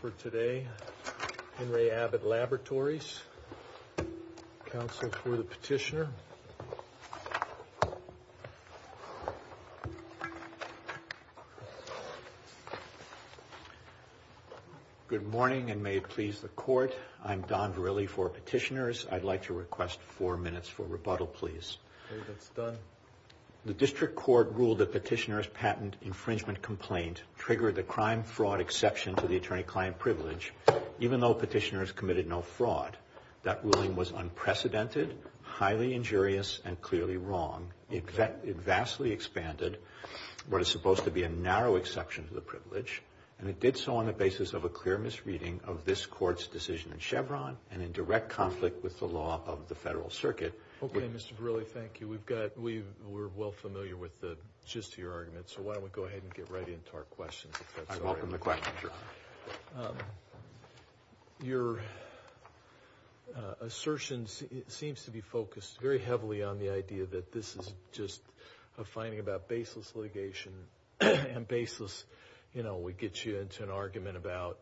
for today. Henry Abbott Laboratories, counsel for the petitioner. Good morning and may it please the court. I'm Don Verrilli for petitioners. I'd like to request four minutes for rebuttal please. The district court ruled that petitioner's patent infringement complaint triggered the crime fraud exception to the attorney-client privilege even though petitioners committed no fraud. That ruling was unprecedented, highly injurious, and clearly wrong. It vastly expanded what is supposed to be a narrow exception to the privilege and it did so on the basis of a clear misreading of this court's decision in Chevron and in direct conflict with the law of the Federal Circuit. Okay, Mr. Verrilli, thank you. We've got, we're well familiar with the gist of your argument so why don't we go ahead and get right into our questions. Your assertions, it seems to be focused very heavily on the idea that this is just a finding about baseless litigation and baseless, you know, we get you into an argument about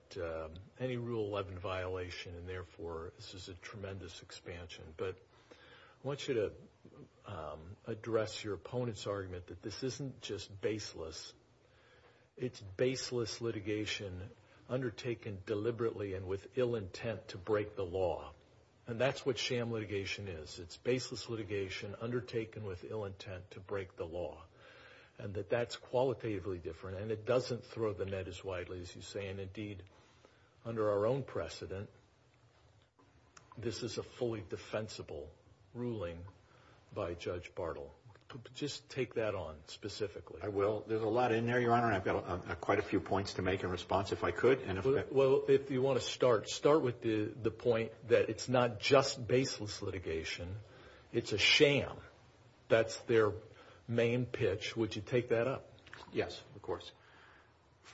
any Rule 11 violation and therefore this is a tremendous expansion. But I want you to address your opponent's argument that this isn't just baseless litigation undertaken deliberately and with ill intent to break the law and that's what sham litigation is. It's baseless litigation undertaken with ill intent to break the law and that that's qualitatively different and it doesn't throw the net as widely as you say and indeed under our own precedent this is a fully defensible ruling by Judge Bartle. Just take that on specifically. I will. There's a lot in there, Your Honor, and I've got quite a few points to make in response if I could. Well, if you want to start, start with the the point that it's not just baseless litigation. It's a sham. That's their main pitch. Would you take that up? Yes, of course.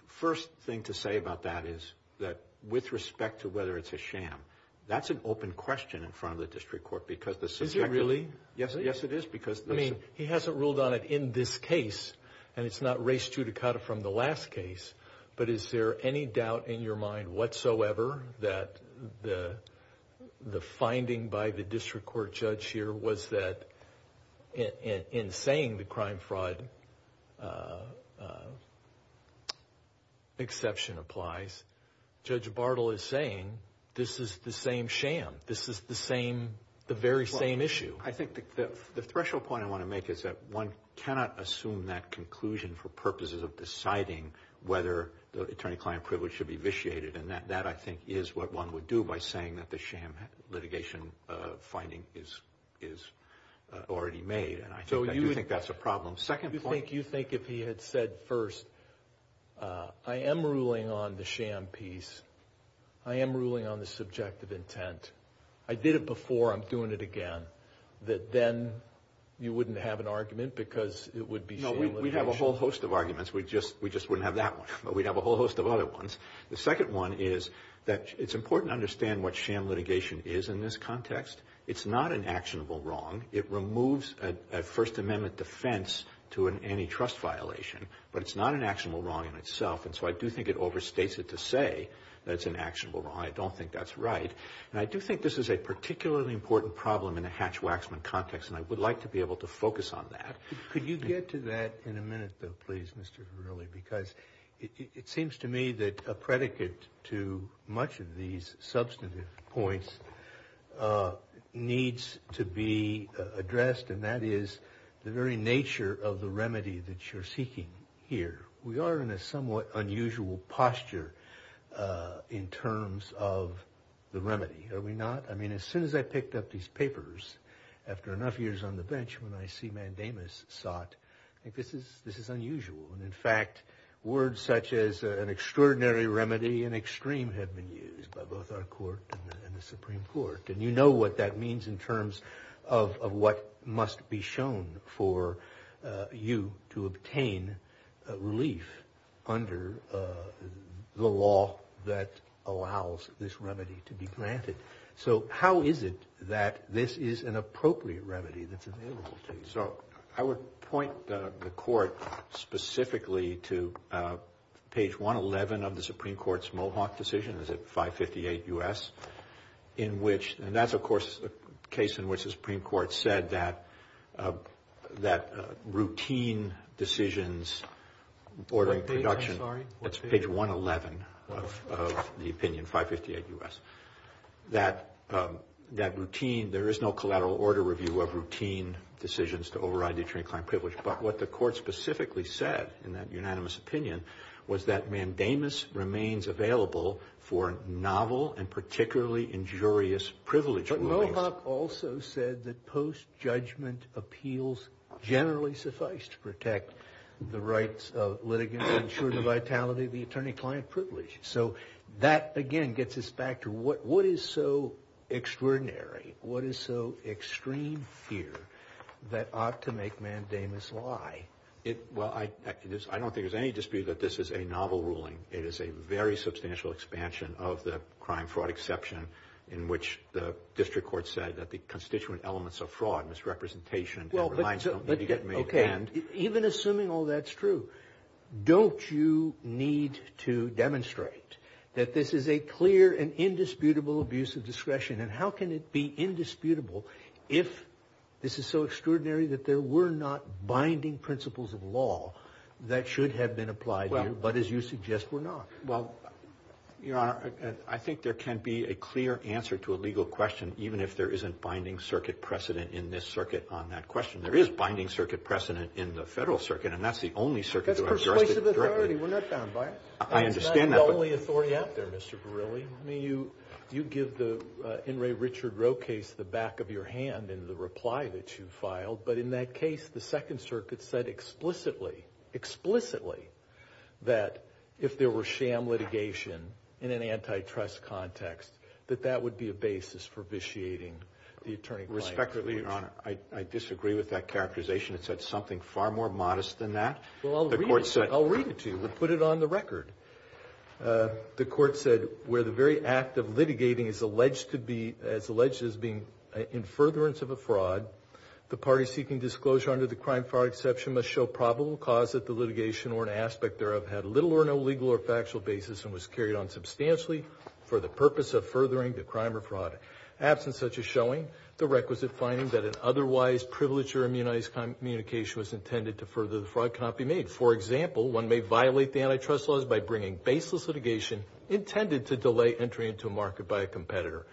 First thing to say about that is that with respect to whether it's a sham, that's an open question in front of the District Court because this is... Is it really? Yes, yes it is because... I mean, he hasn't ruled on it in this case and it's not race judicata from the last case, but is there any doubt in your mind whatsoever that the finding by the District Court judge here was that in saying the crime-fraud exception applies, Judge Bartle is saying this is the same sham. This is the same, the very same issue. I think that the threshold point I want to make is that one cannot assume that conclusion for purposes of deciding whether the attorney-client privilege should be vitiated, and that I think is what one would do by saying that the sham litigation finding is already made, and I do think that's a problem. Second point... Do you think if he had said first, I am ruling on the sham piece, I am ruling on the subjective intent, I did it before, I'm going to have an argument because it would be... No, we'd have a whole host of arguments. We just wouldn't have that one, but we'd have a whole host of other ones. The second one is that it's important to understand what sham litigation is in this context. It's not an actionable wrong. It removes a First Amendment defense to an antitrust violation, but it's not an actionable wrong in itself, and so I do think it overstates it to say that it's an actionable wrong. I don't think that's right, and I do think this is a particularly important problem in a hatch-waxman context, and I would like to be able to focus on that. Could you get to that in a minute, though, please, Mr. Verrilli, because it seems to me that a predicate to much of these substantive points needs to be addressed, and that is the very nature of the remedy that you're seeking here. We are in a somewhat unusual posture in terms of the remedy, are we not? I mean, as soon as I picked up these papers after enough years on the bench when I see mandamus sought, I think this is unusual, and in fact, words such as an extraordinary remedy and extreme have been used by both our court and the Supreme Court, and you know what that means in terms of what must be shown for you to obtain relief under the law that allows this remedy to be granted. So how is it that this is an appropriate remedy that's available to you? So I would point the court specifically to page 111 of the Supreme Court's Mohawk decision, is it 558 U.S., in which, and that's, of course, a case in which the Supreme Court said that routine decisions ordering production, that's page 111 of the opinion, 558 U.S., that there is no collateral order review of routine decisions to override the attorney client privilege, but what the court specifically said in that unanimous opinion was that mandamus remains available for novel and particularly injurious privilege rulings. But Mohawk also said that post-judgment appeals generally suffice to protect the rights of litigants, ensure the vitality of the attorney-client privilege. So that, again, gets us back to what is so extraordinary, what is so extreme here, that ought to make mandamus lie? Well, I don't think there's any dispute that this is a novel ruling. It is a very substantial expansion of the crime-fraud exception in which the district court said that the constituent elements of fraud, misrepresentation, Well, but, okay, even assuming all that's true, don't you need to demonstrate that this is a clear and indisputable abuse of discretion? And how can it be indisputable if this is so extraordinary that there were not binding principles of law that should have been applied here, but as you suggest, were not? Well, you know, I think there can't be a clear answer to a legal question, even if there isn't binding circuit precedent in this circuit on that question. There is binding circuit precedent in the federal circuit, and that's the only circuit that Mr. Verrilli, I mean, you give the N. Ray Richard Roe case the back of your hand in the reply that you filed, but in that case, the Second Circuit said explicitly, explicitly, that if there were sham litigation in an antitrust context, that that would be a basis for vitiating the attorney-client. Respectfully, your honor, I disagree with that characterization. It said something far more modest than that. Well, I'll read it to you. We'll put it on the record. The court said, where the very act of litigating is alleged to be, it's alleged as being in furtherance of a fraud, the party seeking disclosure under the crime fraud exception must show probable cause that the litigation or an aspect thereof had little or no legal or factual basis and was carried on substantially for the purpose of furthering the crime or fraud. Absent such a showing, the requisite finding that an otherwise privileged or immunized communication was intended to further the fraud cannot be made. For example, one may violate the antitrust laws by bringing baseless litigation intended to delay entry into a market by a competitor.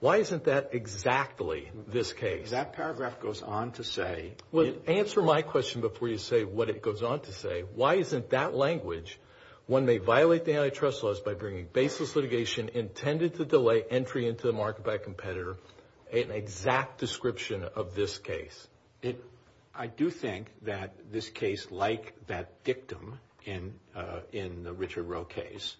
Why isn't that exactly this case? That paragraph goes on to say... Well, answer my question before you say what it goes on to say. Why isn't that language, when they violate the antitrust laws by bringing baseless litigation intended to delay entry into the market by competitor, an exact description of this case? I do think that this case, like that dictum in the Richard Rowe case,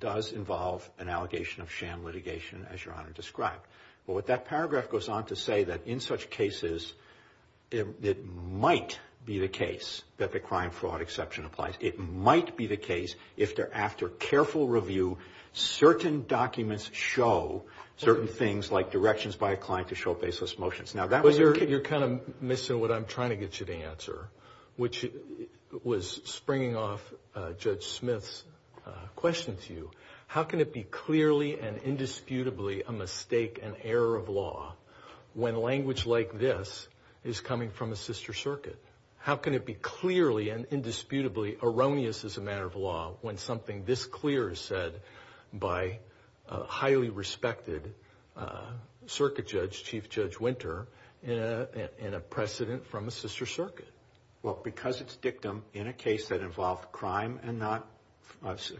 does involve an allegation of sham litigation, as Your Honor described. But what that paragraph goes on to say that in such cases, it might be the case that the crime fraud exception applies. It might be the case if they're after careful review, certain documents show certain things like directions by a You're kind of missing what I'm trying to get you to answer, which was springing off Judge Smith's question to you. How can it be clearly and indisputably a mistake, an error of law, when language like this is coming from a sister circuit? How can it be clearly and indisputably erroneous as a matter of law, when something this clear is said by a highly respected circuit judge, Chief Judge Winter, in a precedent from the sister circuit? Well, because it's dictum in a case that involved crime and not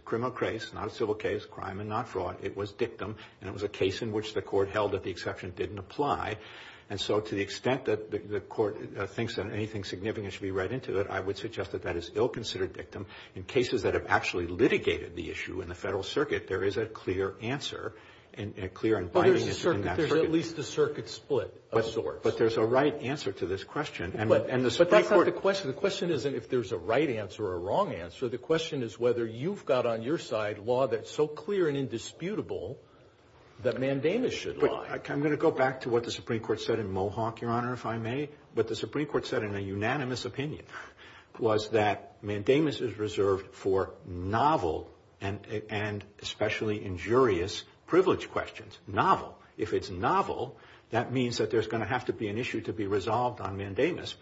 criminal case, not a civil case, crime and not fraud, it was dictum, and it was a case in which the court held that the exception didn't apply. And so to the extent that the court thinks that anything significant should be read into it, I would suggest that that is still considered dictum. In cases that have actually litigated the issue in the federal circuit, there is a clear answer, a clear environment in that circuit. There's at least a circuit split of sorts. But there's a right answer to this question. But the question isn't if there's a right answer or a wrong answer. The question is whether you've got on your side law that's so clear and indisputable that mandamus should lie. I'm going to go back to what the Supreme Court said in Mohawk, Your Honor, if I may. What the Supreme Court said in a unanimous opinion was that mandamus is reserved for novel and especially injurious privilege questions. Novel, if it's novel, that means that there's going to have to be an issue to be resolved on mandamus.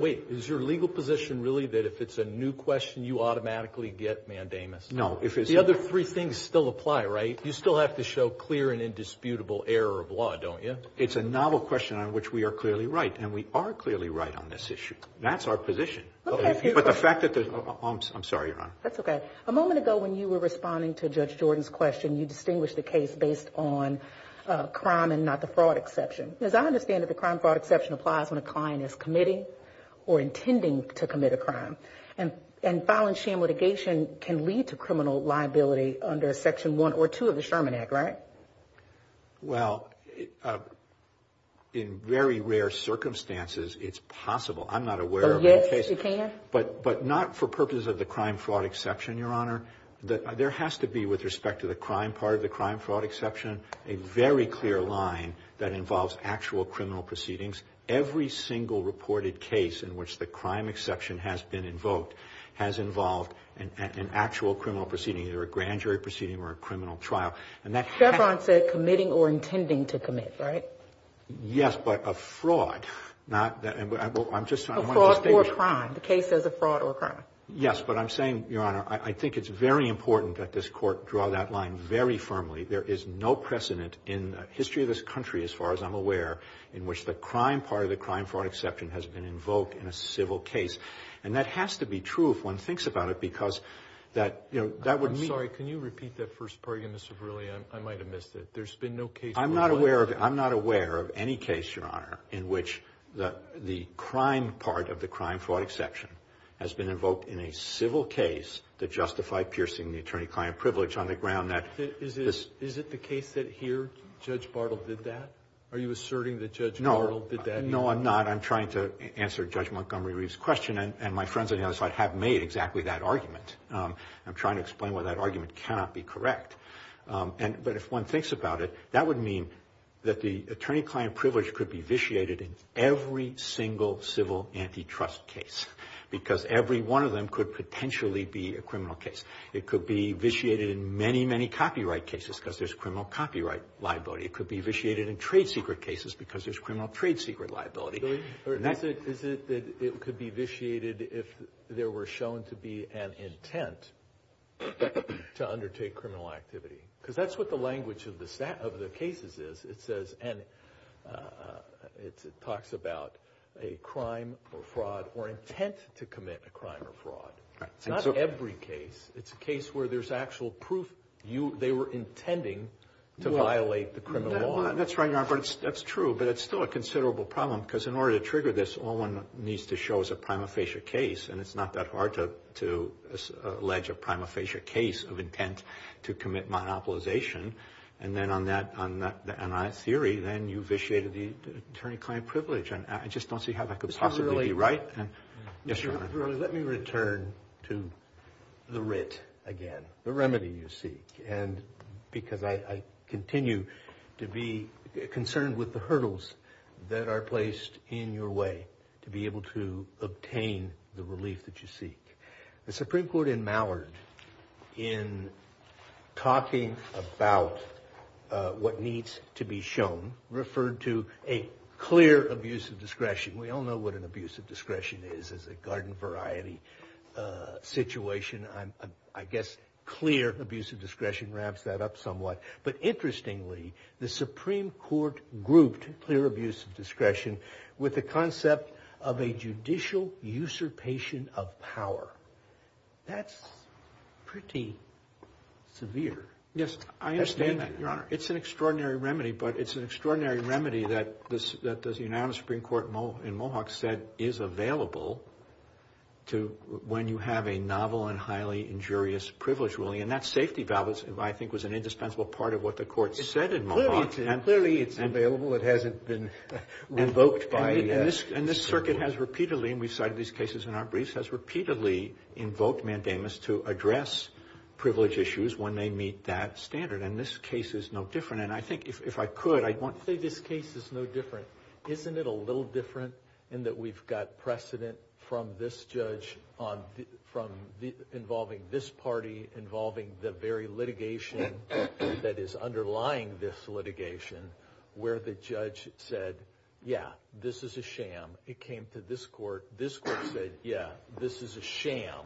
Wait, is your legal position really that if it's a new question you automatically get mandamus? No. The other three things still apply, right? You still have to show clear and indisputable error of law, don't you? It's a novel question on which we are clearly right, and we are clearly right on this issue. That's our position. I'm sorry, Your Honor. That's okay. A moment ago when you were responding to Judge Jordan's question, you distinguished the case based on crime and not the fraud exception. As I understand it, the crime fraud exception applies when a client is committing or intending to commit a crime. And filing shame litigation can lead to criminal liability under Section 1 or 2 of the Sherman Act, right? Well, in very rare circumstances, it's possible. I'm not aware of any cases. But not for purposes of the crime fraud exception, Your Honor. There has to be with respect to the crime part of the crime fraud exception, a very clear line that involves actual criminal proceedings. Every single reported case in which the crime exception has been invoked has involved an actual criminal proceeding, either a grand jury proceeding or a criminal trial. And that... Stefron said committing or intending to commit, right? Yes, but a fraud. A fraud or a crime. The case is a fraud or a crime. Yes, but I'm saying, Your Honor, I think it's very important that this Court draw that line very firmly. There is no precedent in the history of this country, as far as I'm aware, in which the crime part of the crime fraud exception has been invoked in a civil case. And that has to be true, if one thinks about it, because that, you know, that would mean... I'm sorry, can you repeat that first part again, Mr. Verrilli? I might have missed it. There's been no case... I'm not aware of... I'm not aware of any case, Your Honor, in which the crime part of the crime fraud exception has been invoked in a civil case that justified piercing the attorney-client privilege on the ground that... Is it the case that here, Judge Bartle did that? Are you asserting that Judge Bartle did that? No, no, I'm not. I'm trying to answer Judge Montgomery Reeve's question, and my friends on the other side have made exactly that argument. I'm trying to explain why that argument cannot be correct. But if one thinks about it, that would mean that the attorney-client privilege could be vitiated in every single civil antitrust case, because every one of them could potentially be a criminal case. It could be vitiated in many, many copyright cases, because there's criminal copyright liability. It could be vitiated in trade secret cases, because there's criminal trade secret liability. Is it that it could be vitiated if there were shown to be an intent to undertake criminal activity? Because that's what the language of the cases is. It says... and it talks about a crime or where there's actual proof they were intending to violate the criminal law. That's right, that's true, but it's still a considerable problem, because in order to trigger this, all one needs to show is a prima facie case, and it's not that hard to allege a prima facie case of intent to commit monopolization, and then on that theory, then you vitiated the attorney-client privilege, and I just don't see how that could possibly be right. Let me return to the writ again, the remedy you seek, and because I continue to be concerned with the hurdles that are placed in your way to be able to obtain the relief that you seek. The Supreme Court in Mallard, in talking about what needs to be shown, referred to a clear abuse of discretion. We all know what an abuse of discretion is as a garden variety situation. I guess clear abuse of discretion ramps that up somewhat, but interestingly, the Supreme Court grouped clear abuse of discretion with the concept of a judicial usurpation of power. That's pretty severe. Yes, I understand that, Your Honor. It's an extraordinary remedy, but it's an extraordinary remedy that the United Supreme Court in Mohawk said is available to when you have a novel and highly injurious privilege ruling, and that safety balance, I think, was an indispensable part of what the court said in Mohawk. Clearly it's available. It hasn't been revoked by... And this circuit has repeatedly, and we cited these cases in our briefs, has repeatedly invoked mandamus to address privilege issues when they meet that standard, and this case is no different, and I think if I could, I won't say this is no different, in that we've got precedent from this judge, from involving this party, involving the very litigation that is underlying this litigation, where the judge said, yeah, this is a sham. It came to this court. This court said, yeah, this is a sham.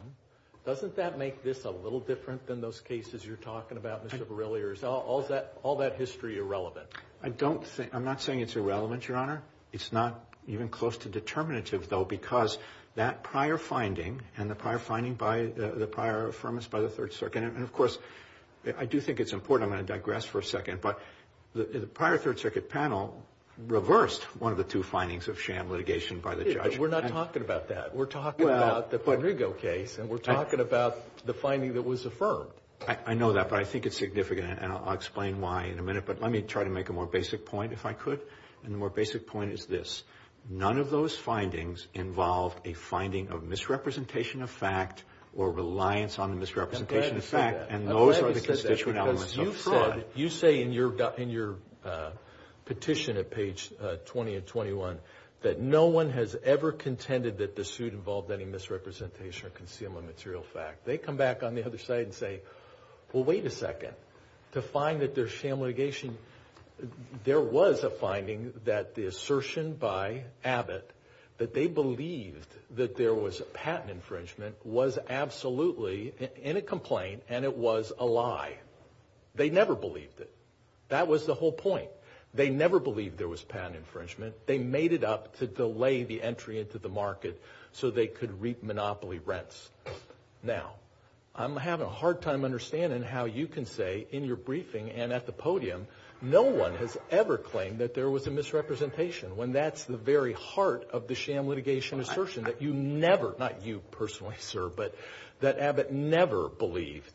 Doesn't that make this a little different than those cases you're talking about, Mr. Verrilli, or is all that history irrelevant? I'm not saying it's irrelevant, Your Honor. It's not even close to determinative, though, because that prior finding and the prior finding by the prior affirmance by the Third Circuit, and of course, I do think it's important, I'm going to digress for a second, but the prior Third Circuit panel reversed one of the two findings of sham litigation by the judge. We're not talking about that. We're talking about the Rodrigo case, and we're talking about the finding that was affirmed. I know that, but I think it's significant, and I'll explain why in a minute, if I could, and the more basic point is this. None of those findings involve a finding of misrepresentation of fact or reliance on the misrepresentation of fact, and those are the conspicuous elements of fraud. You say in your petition at page 20 and 21 that no one has ever contended that the suit involved any misrepresentation or concealment of material fact. They come back on the other side and say, well, wait a second. To find that there's sham litigation, they're finding that the assertion by Abbott that they believed that there was patent infringement was absolutely in a complaint, and it was a lie. They never believed it. That was the whole point. They never believed there was patent infringement. They made it up to delay the entry into the market so they could reap monopoly rents. Now, I'm having a hard time understanding how you can say in your briefing and at the podium no one has ever claimed that there was a misrepresentation when that's the very heart of the sham litigation assertion that you never, not you personally, sir, but that Abbott never believed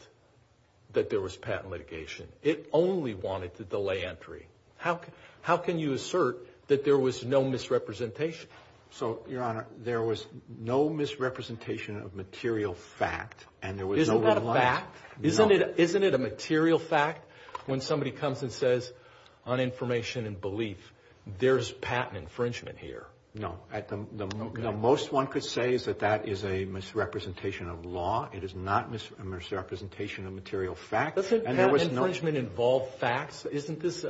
that there was patent litigation. It only wanted to delay entry. How can you assert that there was no misrepresentation? So, Your Honor, there was no misrepresentation of material fact, and there was no reliance. Isn't that a fact? Isn't it a material fact when somebody comes and says on information and beliefs, there's patent infringement here? No. At the most one could say is that that is a misrepresentation of law. It is not a misrepresentation of material fact. Doesn't patent infringement involve facts? Isn't this,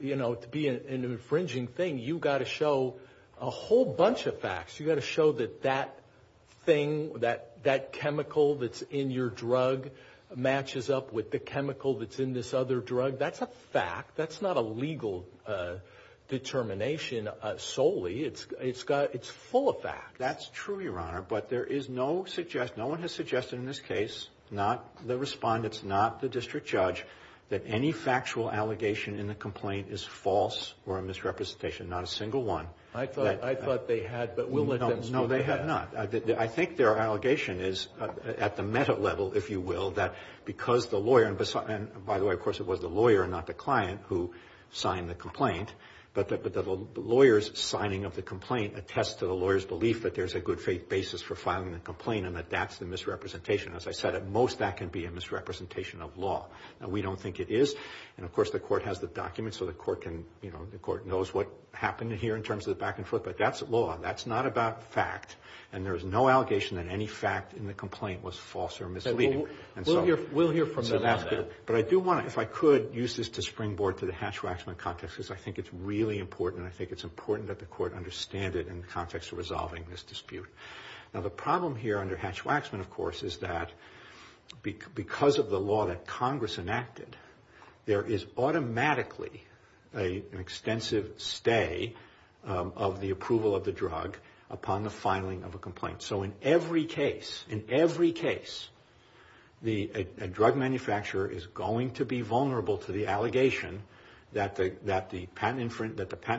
you know, to be an infringing thing, you've got to show a whole bunch of facts. You've got to show that that thing, that chemical that's in your drug matches up with the chemical that's in this other drug. That's a fact. That's not a legal determination solely. It's got, it's full of facts. That's true, Your Honor, but there is no suggestion, no one has suggested in this case, not the respondents, not the district judge, that any factual allegation in the complaint is false or a misrepresentation, not a single one. I thought they had, but we'll let them. No, they had not. I think their allegation is at the meta level, if you will, that because the lawyer, and by the way, of course, it was the lawyer, not the client, who signed the complaint, but that the lawyers signing of the complaint attests to the lawyer's belief that there's a good faith basis for filing the complaint and that that's the misrepresentation. As I said, at most that can be a misrepresentation of law, and we don't think it is, and of course the court has the documents so the court can, you know, the court knows what happened here in terms of the back and forth, but that's law. That's not about fact, and there's no allegation in any fact in the complaint was false or misleading. We'll hear from them. But I do want, if I could, use this to springboard to the Hatch-Waxman context, because I think it's really important. I think it's important that the court understand it in the context of resolving this dispute. Now, the problem here under Hatch-Waxman, of course, is that because of the law that Congress enacted, there is automatically an extensive stay of the approval of the case. In every case, a drug manufacturer is going to be vulnerable to the allegation that the patent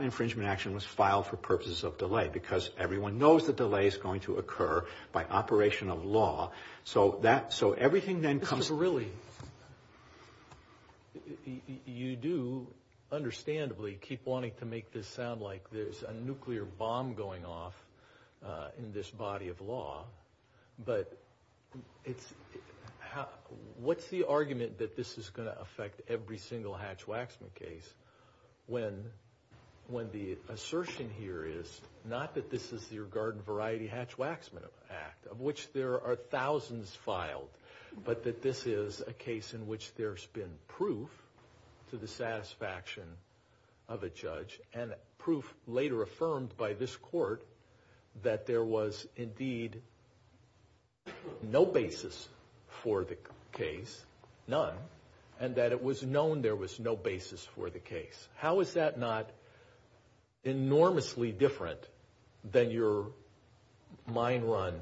infringement action was filed for purposes of delay, because everyone knows the delay is going to occur by operation of law. So everything then comes really... You do, understandably, keep wanting to make this sound like there's a nuclear bomb going off in this body of law, but what's the argument that this is going to affect every single Hatch-Waxman case when the assertion here is not that this is your garden variety Hatch-Waxman Act, of which there are thousands filed, but that this is a case in which there's been proof to the this court that there was indeed no basis for the case, none, and that it was known there was no basis for the case. How is that not enormously different than your mind run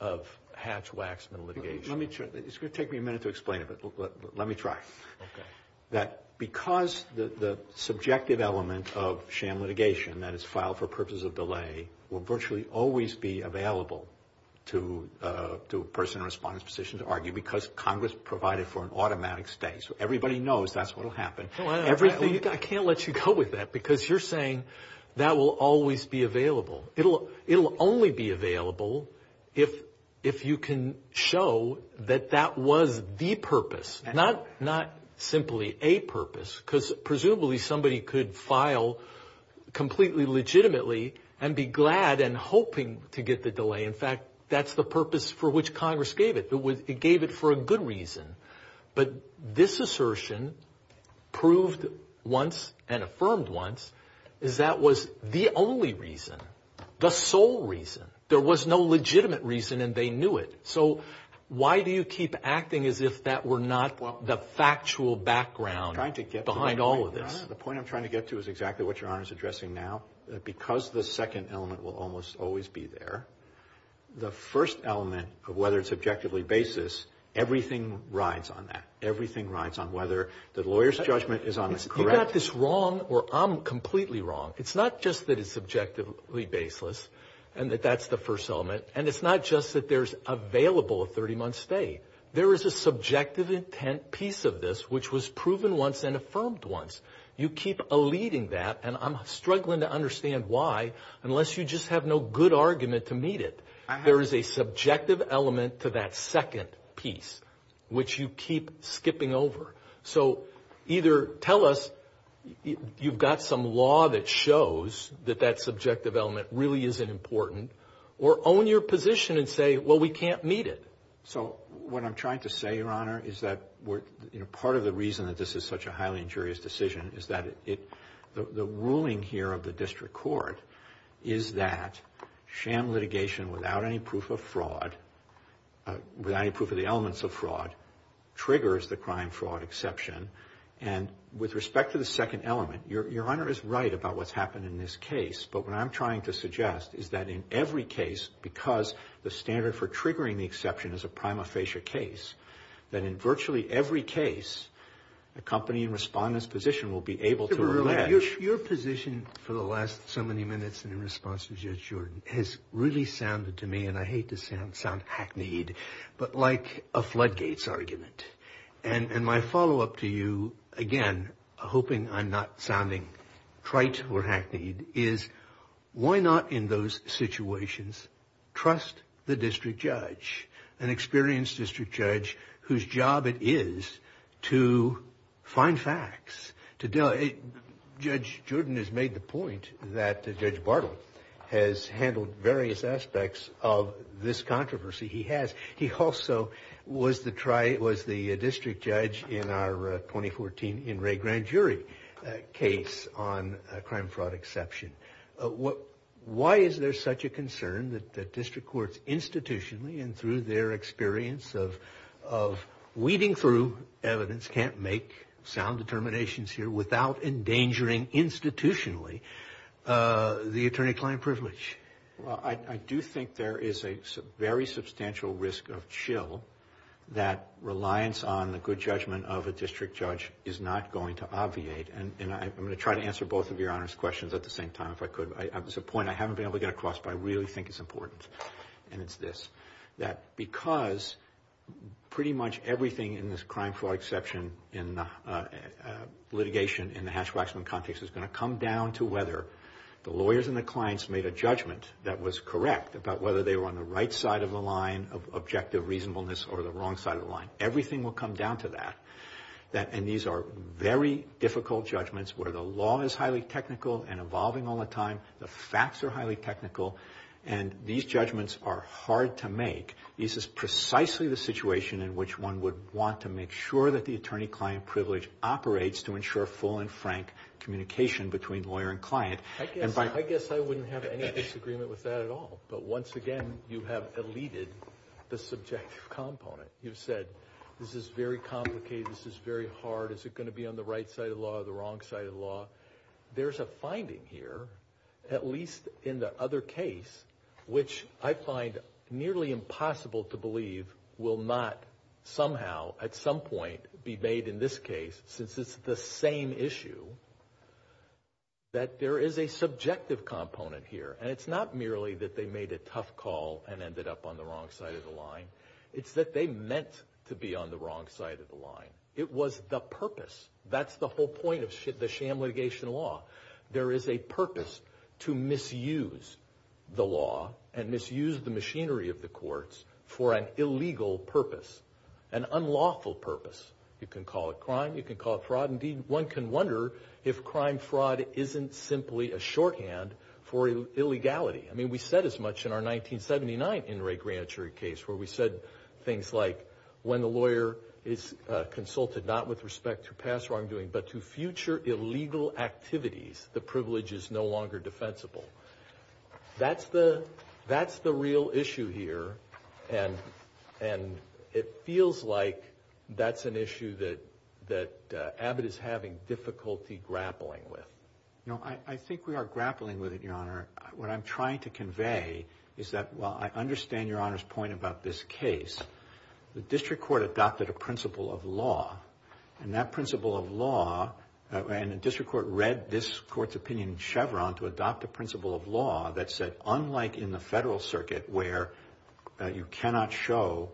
of Hatch-Waxman litigation? It's going to take me a minute to explain it, but let me try. Because the subjective element of sham delay will virtually always be available to a person in a response position to argue, because Congress provided for an automatic stay. So everybody knows that's what will happen. I can't let you go with that, because you're saying that will always be available. It'll only be available if you can show that that was the purpose, not simply a purpose, because presumably somebody could file completely legitimately and be glad and hoping to get the delay. In fact, that's the purpose for which Congress gave it. It gave it for a good reason, but this assertion proved once and affirmed once is that was the only reason, the sole reason. There was no legitimate reason and they knew it. So why do you keep acting as if that were not the factual background behind all of this? The point I'm trying to get to is exactly what Your Honor is addressing now, that because the second element will almost always be there, the first element of whether it's objectively baseless, everything rides on that. Everything rides on whether the lawyer's judgment is correct. You got this wrong, or I'm completely wrong. It's not just that it's objectively baseless and that that's the first element, and it's not just that there's available a 30-month stay. There is a subjective intent piece of this which was proven once and affirmed once. You keep eluding that, and I'm struggling to understand why, unless you just have no good argument to meet it. There is a subjective element to that second piece which you keep skipping over. So either tell us you've got some law that shows that that subjective element really isn't important, or own your position and say, well, we can't meet it. So what I'm trying to say, Your Honor, is that we're, you know, part of the reason that this is such a highly injurious decision is that it, the ruling here of the District Court, is that sham litigation without any proof of fraud, without any proof of the elements of fraud, triggers the crime-fraud exception. And with respect to the second element, Your Honor is right about what's happened in this case, but what I'm trying to suggest is that in every case, because the standard for triggering the exception is a prima facie case, that in virtually every case, the company in respondent's position will be able to... Your position for the last so many minutes in response to Judge Jordan has really sounded to me, and I hate to sound hackneyed, but like a floodgates argument. And my follow-up to you, again, hoping I'm not sounding trite or hackneyed, is why not in those situations trust the district judge, an experienced district judge, whose job it is to find facts. Judge Jordan has made the point that Judge Bartle has handled various aspects of this controversy he has. He also was the district judge in our 2014 In Re Grand Jury case on crime-fraud exception. Why is there such a concern that the district courts institutionally, and through their experience of weeding through evidence, can't make sound determinations here without endangering institutionally the attorney-client privilege? I do think there is a very substantial risk of chill that reliance on the good judgment of a district judge is not going to obviate, and I'm going to try to answer both of Your Honor's questions at the same time if I could. There's a point I haven't been able to get across, but I really think it's important, and it's because pretty much everything in this crime-fraud exception litigation in the hash-waxman context is going to come down to whether the lawyers and the clients made a judgment that was correct about whether they were on the right side of the line of objective reasonableness or the wrong side of the line. Everything will come down to that, and these are very difficult judgments where the law is highly technical and evolving all the time, the facts are highly technical, and these judgments are hard to make. These are precisely the situation in which one would want to make sure that the attorney-client privilege operates to ensure full and frank communication between lawyer and client. I guess I wouldn't have any disagreement with that at all, but once again, you have eluded the subjective component. You've said this is very complicated, this is very hard, is it going to be on the right side of law or the wrong side of law? There's a finding here, at least in the other case, which I believe will not somehow, at some point, be made in this case, since it's the same issue, that there is a subjective component here, and it's not merely that they made a tough call and ended up on the wrong side of the line, it's that they meant to be on the wrong side of the line. It was the purpose, that's the whole point of the sham litigation law. There is a purpose to misuse the law and misuse the machinery of the courts for an illegal purpose, an unlawful purpose. You can call it crime, you can call it fraud, indeed one can wonder if crime fraud isn't simply a shorthand for illegality. I mean, we said as much in our 1979 Enright Granitary case, where we said things like, when the lawyer is consulted not with respect to past wrongdoing, but to future illegal activities, the privilege is no longer defensible. That's the real issue here, and it feels like that's an issue that Abbott is having difficulty grappling with. No, I think we are grappling with it, Your Honor. What I'm trying to convey is that, while I understand Your Honor's point about this case, the District Court adopted a principle of law, and that principle of law led this Court's opinion in Chevron to adopt the principle of law that said, unlike in the Federal Circuit, where you cannot show,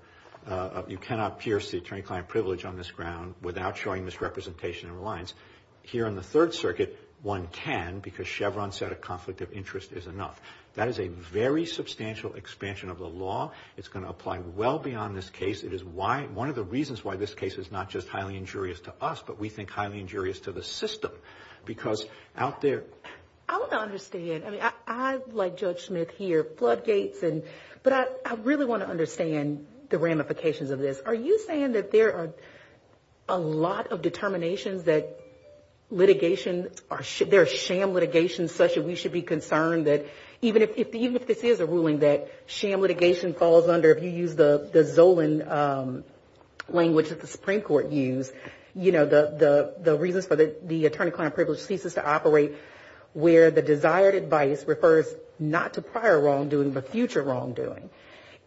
you cannot pierce the attorney-client privilege on this ground without showing misrepresentation and reliance, here in the Third Circuit one can, because Chevron said a conflict of interest is enough. That is a very substantial expansion of the law. It's going to apply well beyond this case. It is why, one of the reasons why this case is not just highly injurious to us, but we think highly injurious to the system, because out there... I want to understand, I mean, I, like Judge Smith here, floodgates, but I really want to understand the ramifications of this. Are you saying that there are a lot of determinations that litigation, there are sham litigations such that we should be concerned that, even if this is a ruling that sham litigation falls under, if you use the Zolan language that the Supreme Court used, you know, the reasons for the attorney-client privilege thesis to operate, where the desired advice refers not to prior wrongdoing, but future wrongdoing.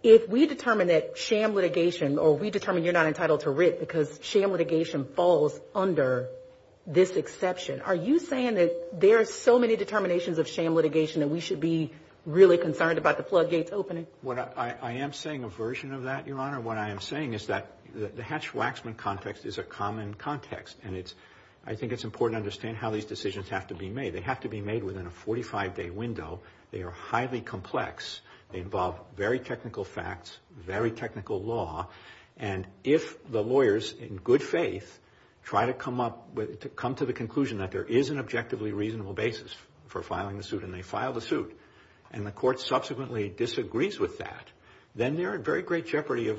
If we determine that sham litigation, or we determine you're not entitled to writ because sham litigation falls under this exception, are you saying that there are so many determinations of sham litigation that we should be really concerned about the floodgates opening? What I am saying, a version of that, Your Honor, what I am saying is that the Hatch-Waxman context is a common context, and it's, I think it's important to understand how these decisions have to be made. They have to be made within a 45-day window. They are highly complex. They involve very technical facts, very technical law, and if the lawyers, in good faith, try to come up with, to come to the conclusion that there is an objectively reasonable basis for filing the suit, and they file the suit, and the court subsequently disagrees with that, then they're in very great jeopardy of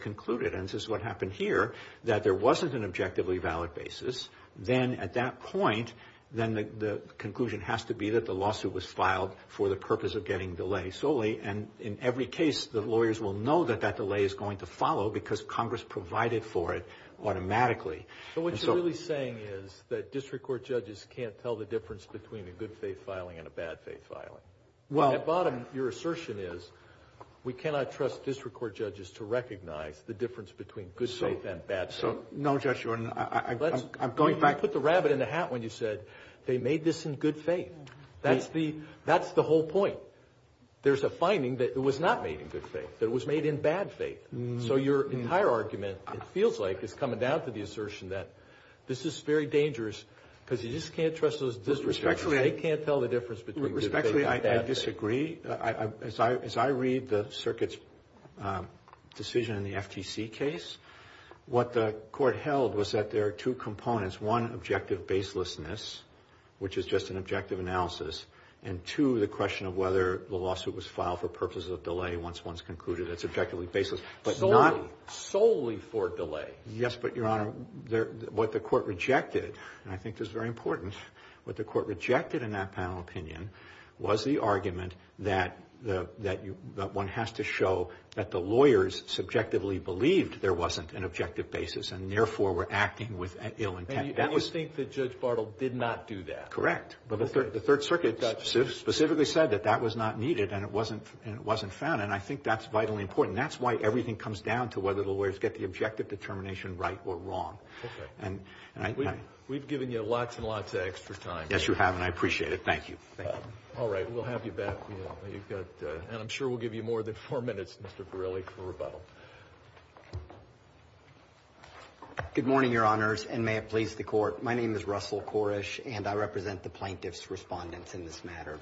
concluded, and this is what happened here, that there wasn't an objectively valid basis. Then, at that point, then the conclusion has to be that the lawsuit was filed for the purpose of getting delay solely, and in every case, the lawyers will know that that delay is going to follow because Congress provided for it automatically. So what you're really saying is that district court judges can't tell the difference between a good faith filing and a bad faith filing? Well, at the bottom, your assertion is we cannot trust district court judges to recognize the difference between good faith and bad faith. So, no, Judge, I'm going back to... You put the rabbit in the hat when you said they made this in good faith. That's the whole point. There's a finding that it was not made in good faith, that it was made in bad faith. So your entire argument, it feels like, is coming down to the assertion that this is very dangerous because you just can't trust those district judges. They can't tell the circuit's decision in the FTC case. What the court held was that there are two components. One, objective baselessness, which is just an objective analysis, and two, the question of whether the lawsuit was filed for purposes of delay once one's concluded it's objectively baseless, but not solely for delay. Yes, but, Your Honor, what the court rejected, and I think this is very important, what the court rejected in that panel opinion was the argument that one has to show that the lawyers subjectively believed there wasn't an objective basis, and therefore were acting with ill intent. And you think that Judge Bartle did not do that? Correct, but the Third Circuit specifically said that that was not needed, and it wasn't found, and I think that's vitally important. That's why everything comes down to whether the lawyers get the objective determination right or wrong. We've given you lots and lots of extra time. Yes, you have, and I appreciate it. Thank you. All right, we'll have you back, and I'm sure we'll give you more than four minutes, Mr. Borrelli, for rebuttal. Good morning, Your Honors, and may it please the court. My name is Russell Korish, and I represent the plaintiff's respondents in this matter.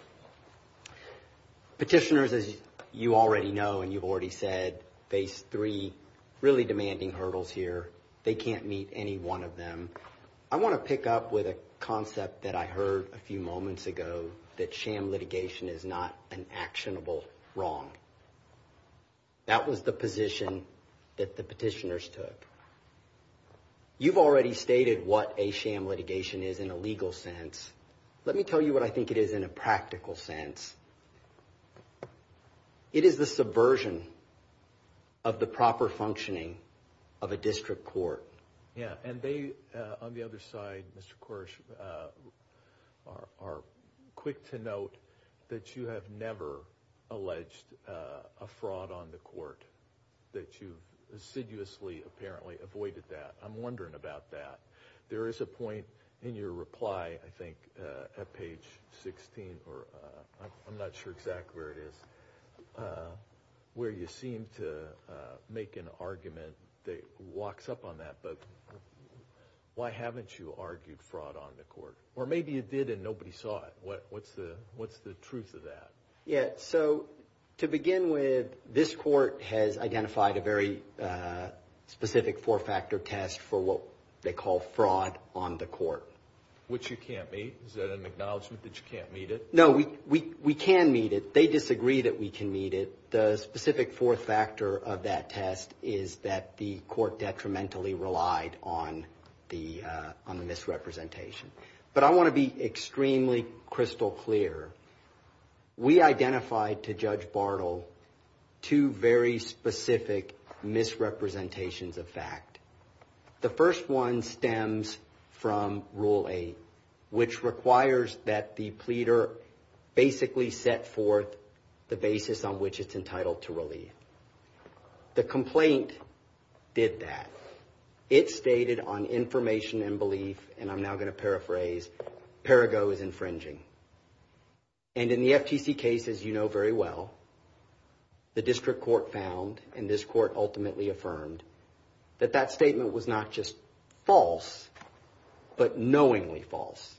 Petitioners, as you already know and you've already said, face three really demanding hurdles here. They can't meet any one of them. I want to pick up with a concept that I heard a few moments ago, that sham litigation is not an actionable wrong. That was the position that the petitioners took. You've already stated what a sham litigation is in a legal sense. Let me tell you what I think it is in a practical sense. It is the subversion of the proper functioning of a district court. Yeah, and they, on the other side, Mr. Korish, are quick to note that you have never alleged a fraud on the court, that you insidiously apparently avoided that. I'm wondering about that. There is a point in your reply, I think, at page 16, or I'm not sure exactly where it is, where you seem to make an argument that walks up on that, but why haven't you argued fraud on the court? Or maybe you did and nobody saw it. What's the truth of that? Yeah, so to begin with, this court has identified a very specific four-factor test for what they call fraud on the court. Which you can't meet? Is that an acknowledgement that you can't meet it? No, we can meet it. They disagree that we can meet it. The specific four-factor of that test is that the court detrimentally relied on the misrepresentation. But I want to be extremely crystal clear. We identified to Judge Bartle two very specific misrepresentations of fact. The first one stems from Rule 8, which requires that the pleader basically set forth the basis on which it's entitled to relieve. The complaint did that. It stated on information and belief, and I'm now going to paraphrase, Perigo is infringing. And in the FTC case, as you know very well, the district court found, and this court ultimately affirmed, that that statement was not just false, but knowingly false.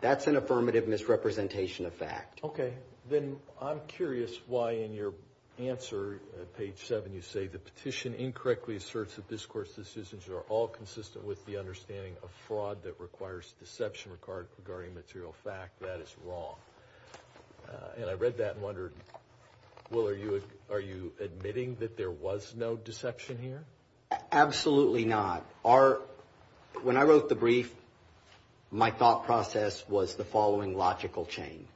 That's an affirmative misrepresentation of fact. Okay, then I'm curious why in your answer, page 7, you say the petition incorrectly asserts that this court's decisions are all consistent with the understanding of fraud that requires deception required regarding material fact. That is wrong. And I read that and wondered, well are you admitting that there was no deception here? Absolutely not. When I wrote the brief, my thought process was the following logical chain.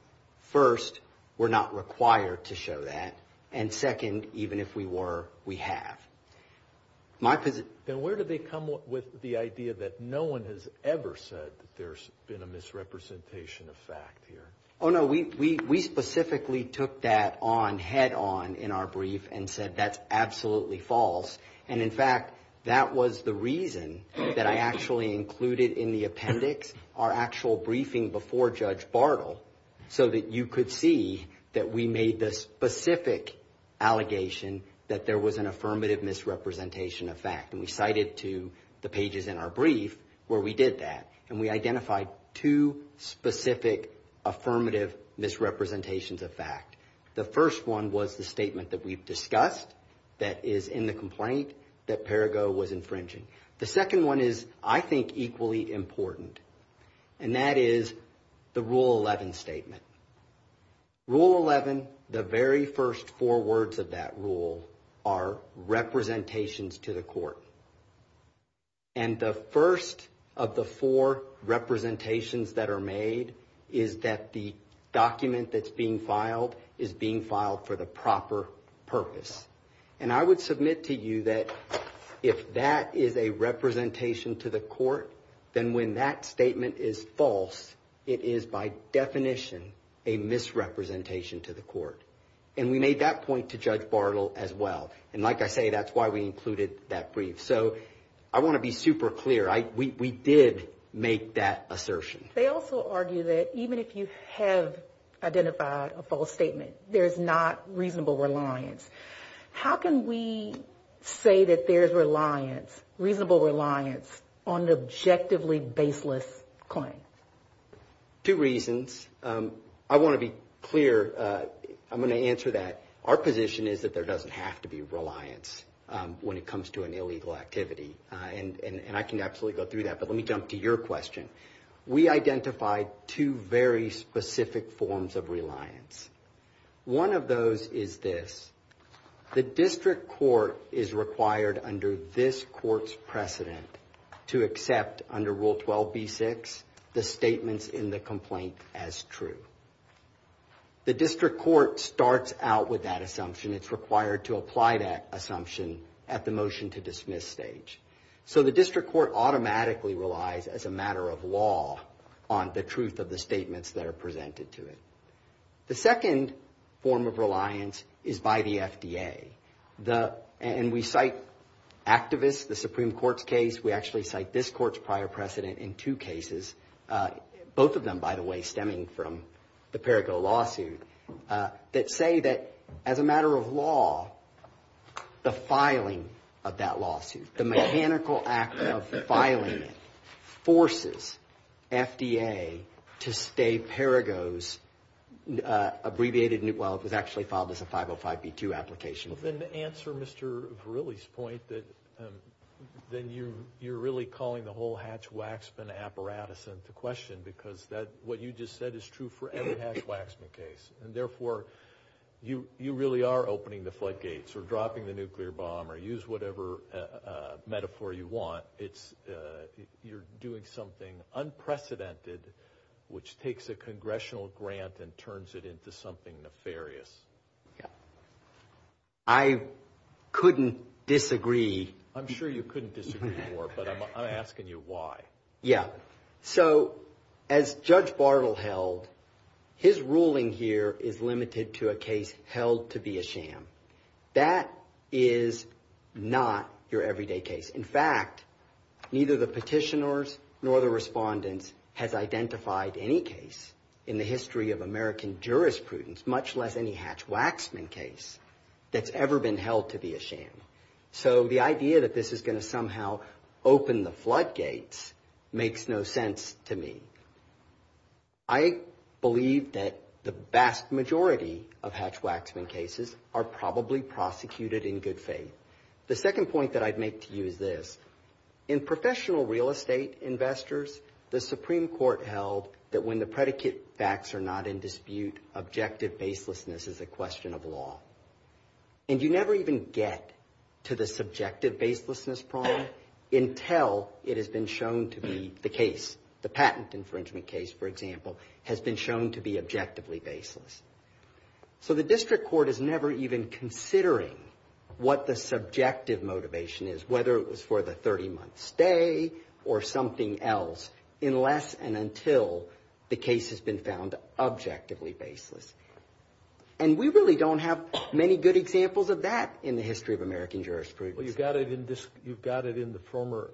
First, we're not required to show that, and second, even if we were, we have. Then where did they come with the idea that no one has ever said that there's been a misrepresentation of fact here? Oh no, we specifically took that on head-on in our brief and said that's absolutely false. And in fact, that was the reason that I actually included in the appendix our actual briefing before Judge Bartle, so that you could see that we made the specific allegation that there was an affirmative misrepresentation of fact. And we cited to the pages in our brief where we did that, and we identified two specific affirmative misrepresentations of fact. The first one was the statement that we've discussed that is in the complaint that Perrigo was infringing. The second one is, I think, equally important, and that is the Rule 11 statement. Rule 11, the very first four words of that rule are representations to the court. And the first of the four is being filed for the proper purpose. And I would submit to you that if that is a representation to the court, then when that statement is false, it is by definition a misrepresentation to the court. And we made that point to Judge Bartle as well. And like I say, that's why we included that brief. So I want to be super clear. We did make that assertion. They also argue that even if you have identified a false statement, there's not reasonable reliance. How can we say that there's reliance, reasonable reliance, on an objectively baseless claim? Two reasons. I want to be clear. I'm going to answer that. Our position is that there doesn't have to be reliance when it comes to an illegal activity. And I can absolutely go through that. But let me jump to your question. We identified two very specific forms of reliance. One of those is this. The district court is required under this court's precedent to accept, under Rule 12b-6, the statements in the complaint as true. The district court starts out with that assumption. It's required to apply that assumption at the motion to on the truth of the statements that are presented to it. The second form of reliance is by the FDA. And we cite activists, the Supreme Court's case. We actually cite this court's prior precedent in two cases, both of them, by the way, stemming from the Perrigo lawsuit, that say that as a matter of FDA, to stay Perrigo's abbreviated, well, it was actually filed as a 505B2 application. Then to answer Mr. Verrilli's point, that then you're really calling the whole Hatch-Waxman apparatus into question, because what you just said is true for every Hatch-Waxman case. And therefore, you really are opening the floodgates or dropping the nuclear bomb or use whatever metaphor you want. You're doing something unprecedented, which takes a congressional grant and turns it into something nefarious. I couldn't disagree. I'm sure you couldn't disagree before, but I'm asking you why. Yeah. So as Judge Bartle held, his ruling here is limited to a case held to be a sham case. In fact, neither the petitioners nor the respondents have identified any case in the history of American jurisprudence, much less any Hatch-Waxman case that's ever been held to be a sham. So the idea that this is going to somehow open the floodgates makes no sense to me. I believe that the vast majority of Hatch-Waxman cases are probably prosecuted in good faith. The second point that I'd make to you is this. In professional real estate investors, the Supreme Court held that when the predicate facts are not in dispute, objective baselessness is a question of law. And you never even get to the subjective baselessness problem until it has been shown to be the case. The patent infringement case, for example, has been shown to be objectively baseless. So the district court is never even considering what the subjective motivation is, whether it was for the 30-month stay or something else, unless and until the case has been found objectively baseless. And we really don't have many good examples of that in the history of American jurisprudence. You've got it in the former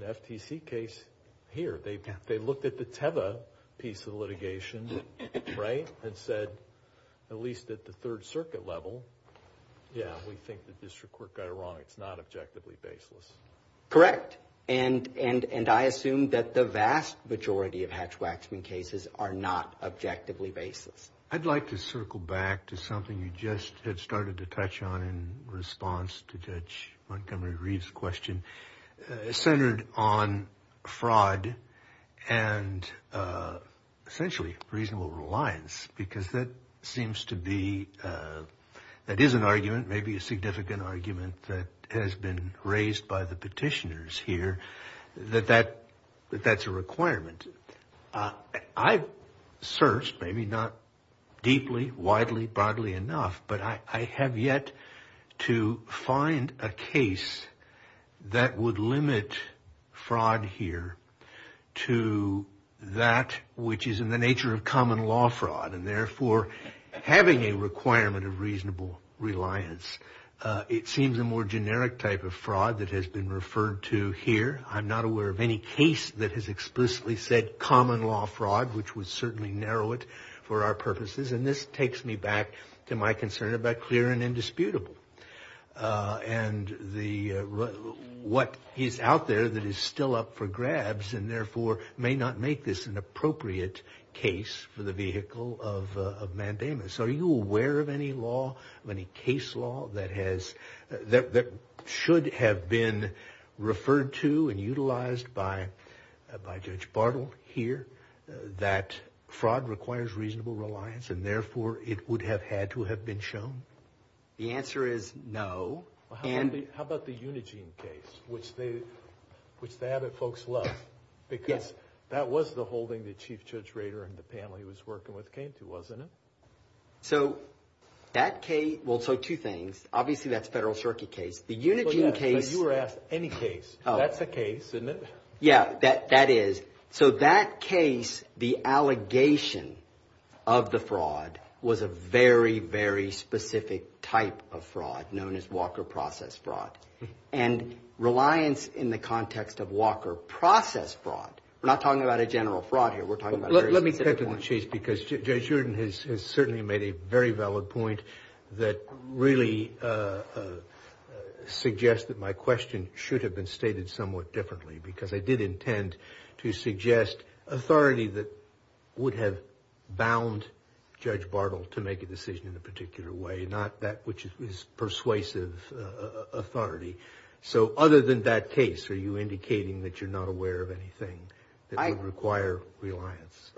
FTC case here. They looked at the Teva piece of litigation and said, at least at the Third Circuit level, yeah, we think the district court got it wrong. It's not objectively baseless. Correct. And I assume that the vast majority of Hatch-Waxman cases are not objectively baseless. I'd like to circle back to something you just had started to touch on in response to Judge Montgomery-Reeves' question centered on that is an argument, maybe a significant argument, that has been raised by the petitioners here, that that's a requirement. I've searched, maybe not deeply, widely, broadly enough, but I have yet to find a case that would limit fraud here to that which is in the nature of common law fraud, and therefore having a requirement of reasonable reliance. It seems a more generic type of fraud that has been referred to here. I'm not aware of any case that has explicitly said common law fraud, which would certainly narrow it for our purposes, and this takes me back to my concern about clear and indisputable. And what is out there that is still up for grabs, and therefore may not make this an appropriate case for the vehicle of mandamus? Are you aware of any law, of any case law, that should have been referred to and utilized by Judge Bartle here, that fraud requires reasonable reliance and therefore it would have had to have been shown? The answer is no. How about the holding that Chief Judge Rader and the panel he was working with came to, wasn't it? So that case, well, so two things. Obviously, that's Federal Cherokee case. But you were asked any case. That's a case, isn't it? Yeah, that is. So that case, the allegation of the fraud, was a very, very specific type of fraud known as Walker process fraud. And reliance in the context of Walker process fraud, we're not talking about a general fraud here, we're talking about... Let me pick on the case, because Judge Jordan has certainly made a very valid point that really suggests that my question should have been stated somewhat differently, because I did intend to suggest authority that would have bound Judge Bartle to make a decision in a particular way, not that which is persuasive authority. So other than that case, are you indicating that you're not aware of anything that would require reliance?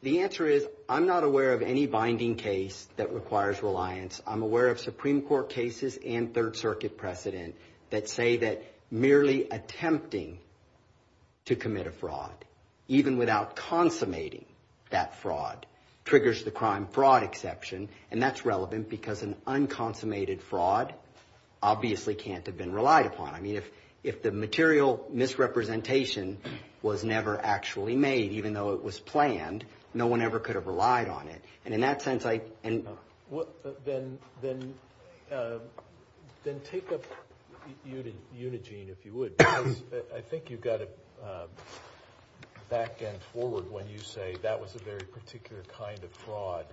The answer is, I'm not aware of any binding case that requires reliance. I'm aware of Supreme Court cases and Third Circuit precedent that say that merely attempting to commit a fraud, even without consummating that fraud, triggers the crime fraud exception. And that's relevant because an unconsummated fraud obviously can't have been relied upon. I mean, if the material misrepresentation was never actually made, even though it was planned, no one ever could have relied on it. And in that sense, I... Then take up Unigine, if you would. I think you've got to back and forward when you say that was a very particular kind of fraud.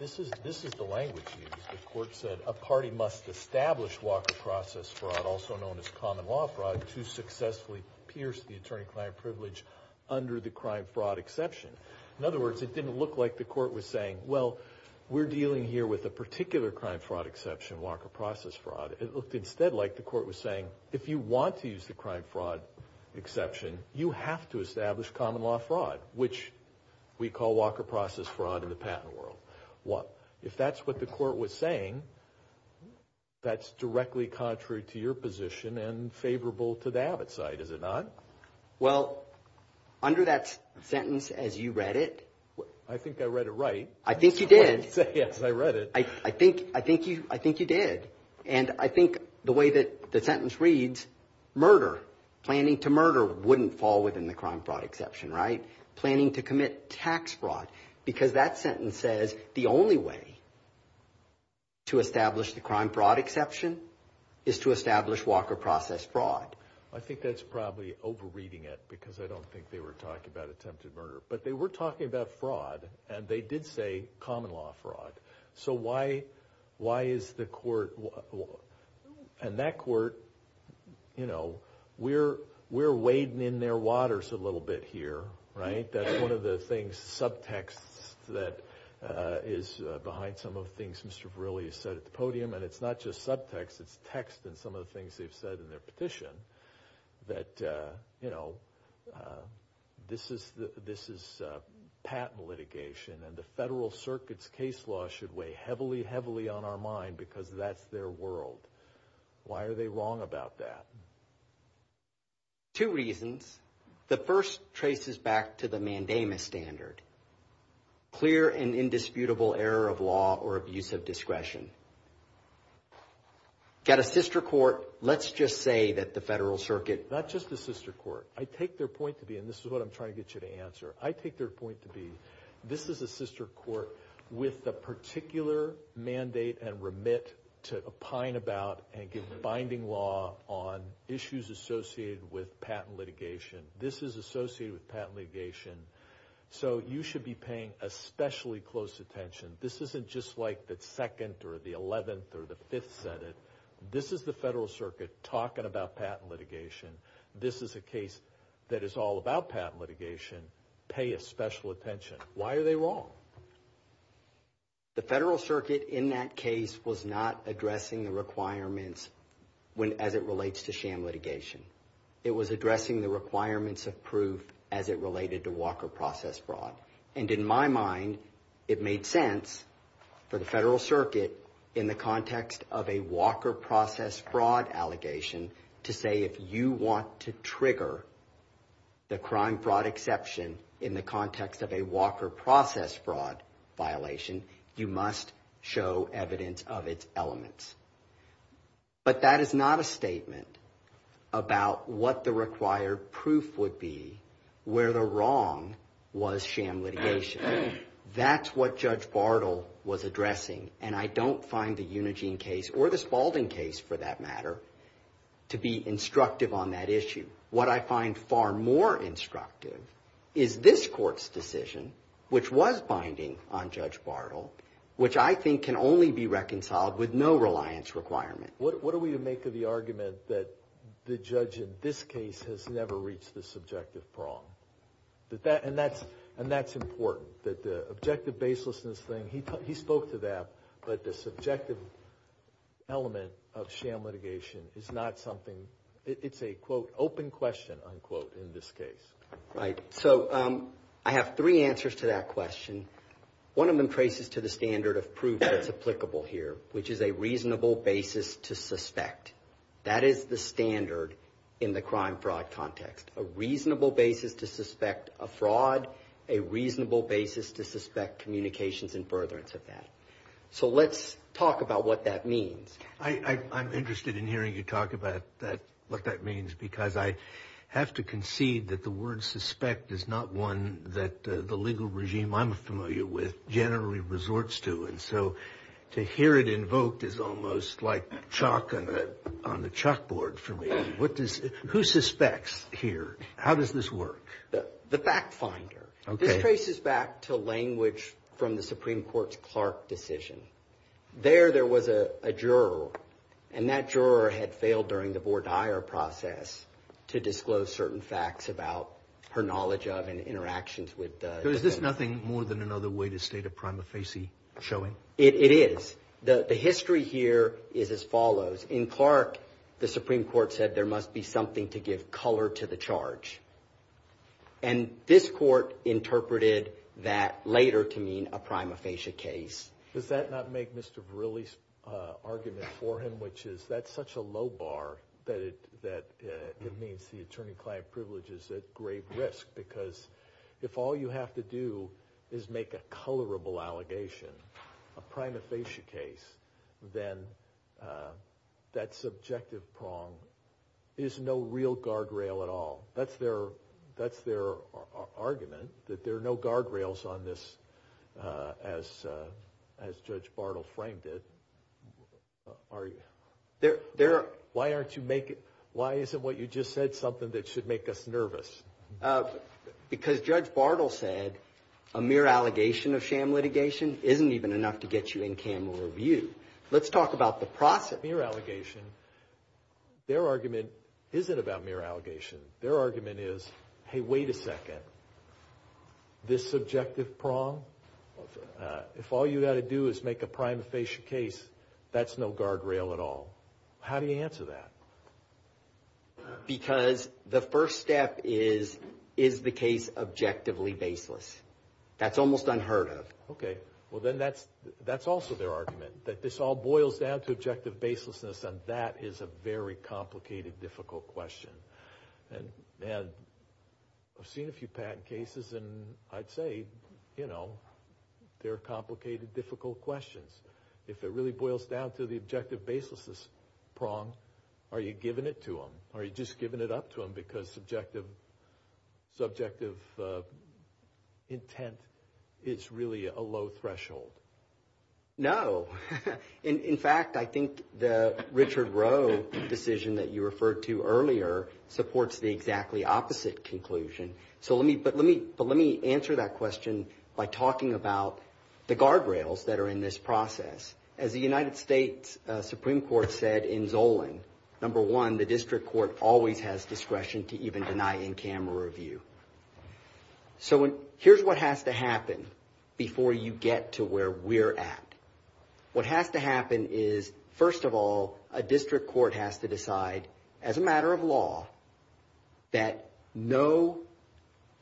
This is the language used. The court said, a party must establish Walker Process Fraud, also known as Common Law Fraud, to successfully pierce the attorney-client privilege under the crime fraud exception. In other words, it didn't look like the court was saying, well, we're dealing here with a particular crime fraud exception, Walker Process Fraud. It looked instead like the court was saying, if you want to use the crime fraud exception, you have to establish Common Law Fraud, which we call Walker Process Fraud in the patent world. What? If that's what the court was saying, that's directly contrary to your position and favorable to the Abbott side, is it not? Well, under that sentence, as you read it... I think I read it right. I think you did. Yes, I read it. I think... I think you... I think you did. And I think the way that the sentence reads, murder... planning to murder wouldn't fall within the crime fraud exception, right? Planning to commit tax fraud, because that sentence says the only way to establish the crime fraud exception is to establish Walker Process Fraud. I think that's probably over-reading it, because I don't think they were talking about attempted murder, but they were talking about fraud, and they did say Common Law Fraud. So why... why is the court... and that court, you know, we're... we're wading in their waters a lot, right? That's one of the things, subtext, that is behind some of the things Mr. Verrilli has said at the podium, and it's not just subtext, it's text, and some of the things they've said in their petition, that, you know, this is... this is patent litigation, and the Federal Circuit's case law should weigh heavily, heavily on our mind, because that's their world. Why are they wrong about that? Two reasons. The first traces back to the mandamus standard, clear and indisputable error of law or abuse of discretion. Got a sister court, let's just say that the Federal Circuit... Not just a sister court, I take their point to be, and this is what I'm trying to get you to answer, I take their point to be, this is a sister court with the particular mandate and remit to opine about and give binding law on issues associated with patent litigation. This is associated with patent litigation, so you should be paying especially close attention. This isn't just like the second, or the eleventh, or the fifth Senate. This is the Federal Circuit talking about patent litigation. This is a case that is all about patent litigation. Pay a special attention. Why are they wrong? The Federal Circuit, in that case, was not addressing the requirements as it relates to sham litigation. It was addressing the requirements of proof as it related to walker process fraud. And in my mind, it made sense for the Federal Circuit, in the context of a walker process fraud allegation, to say if you want to trigger the crime fraud exception in the context of a walker process fraud violation, you must show evidence of its elements. But that is not a statement about what the required proof would be where the wrong was sham litigation. That's what Judge Bartle was addressing, and I don't find the Unigine case, or the Spaulding case for that matter, to be instructive on that issue. What I find far more instructive is this with no reliance requirement. What do we make of the argument that the judge in this case has never reached the subjective prong? And that's important, that the objective baselessness thing, he spoke to that, but the subjective element of sham litigation is not something, it's a, quote, open question, unquote, in this case. Right, so I have three answers to that question. One of them traces to the standard of proof that's applicable here, which is a reasonable basis to suspect. That is the standard in the crime fraud context. A reasonable basis to suspect a fraud, a reasonable basis to suspect communications and furtherance of that. So let's talk about what that means. I'm interested in hearing you talk about that, what that means, because I have to concede that the word suspect is not one that the legal regime I'm familiar with generally resorts to, and so to hear it invoked is almost like chalk on the chalkboard for me. What does, who suspects here? How does this work? The back finder. Okay. This traces back to language from the Supreme Court's Clark decision. There, there was a juror, and that juror had failed during the Vordaer process to disclose certain facts about her knowledge of and prima facie showing. It is. The history here is as follows. In Clark, the Supreme Court said there must be something to give color to the charge, and this court interpreted that later to mean a prima facie case. Does that not make Mr. Verrilli's argument for him, which is that's such a low bar that it, that it means the attorney-client privilege is at grave risk, because if all you have to do is make a colorable allegation, a prima facie case, then that subjective prong is no real guardrail at all. That's their, that's their argument, that there are no guardrails on this as, as Judge Bartle framed it. Are you? There, there are. Why aren't you making, why isn't what you just said something that should make us A mere allegation of sham litigation isn't even enough to get you in camera view. Let's talk about the process. Mere allegation, their argument isn't about mere allegation. Their argument is, hey, wait a second. This subjective prong, if all you got to do is make a prima facie case, that's no guardrail at all. How do you answer that? Because the first step is, is the case objectively baseless? That's almost unheard of. Okay, well then that's, that's also their argument, that this all boils down to objective baselessness, and that is a very complicated, difficult question. And, and I've seen a few patent cases, and I'd say, you know, they're complicated, difficult questions. If it really boils down to the Are you giving it to them? Are you just giving it up to them? Because subjective, subjective intent, it's really a low threshold. No. In fact, I think the Richard Rowe decision that you referred to earlier supports the exactly opposite conclusion. So let me, but let me, but let me answer that question by talking about the guardrails that are in this process. As the United States Supreme Court said in Zolan, number one, the district court always has discretion to even deny in camera review. So when, here's what has to happen before you get to where we're at. What has to happen is, first of all, a district court has to decide, as a matter of law, that no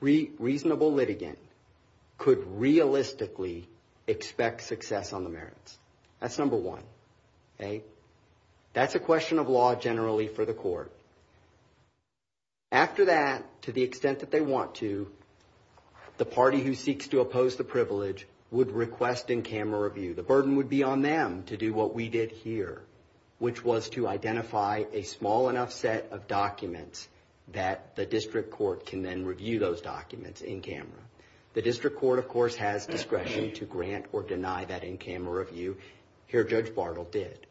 reasonable litigant could realistically expect success on the That's a question of law generally for the court. After that, to the extent that they want to, the party who seeks to oppose the privilege would request in camera review. The burden would be on them to do what we did here, which was to identify a small enough set of documents that the district court can then review those documents in camera. The district court, of course, has discretion to grant or deny that in camera review. Here, Judge Bartle did.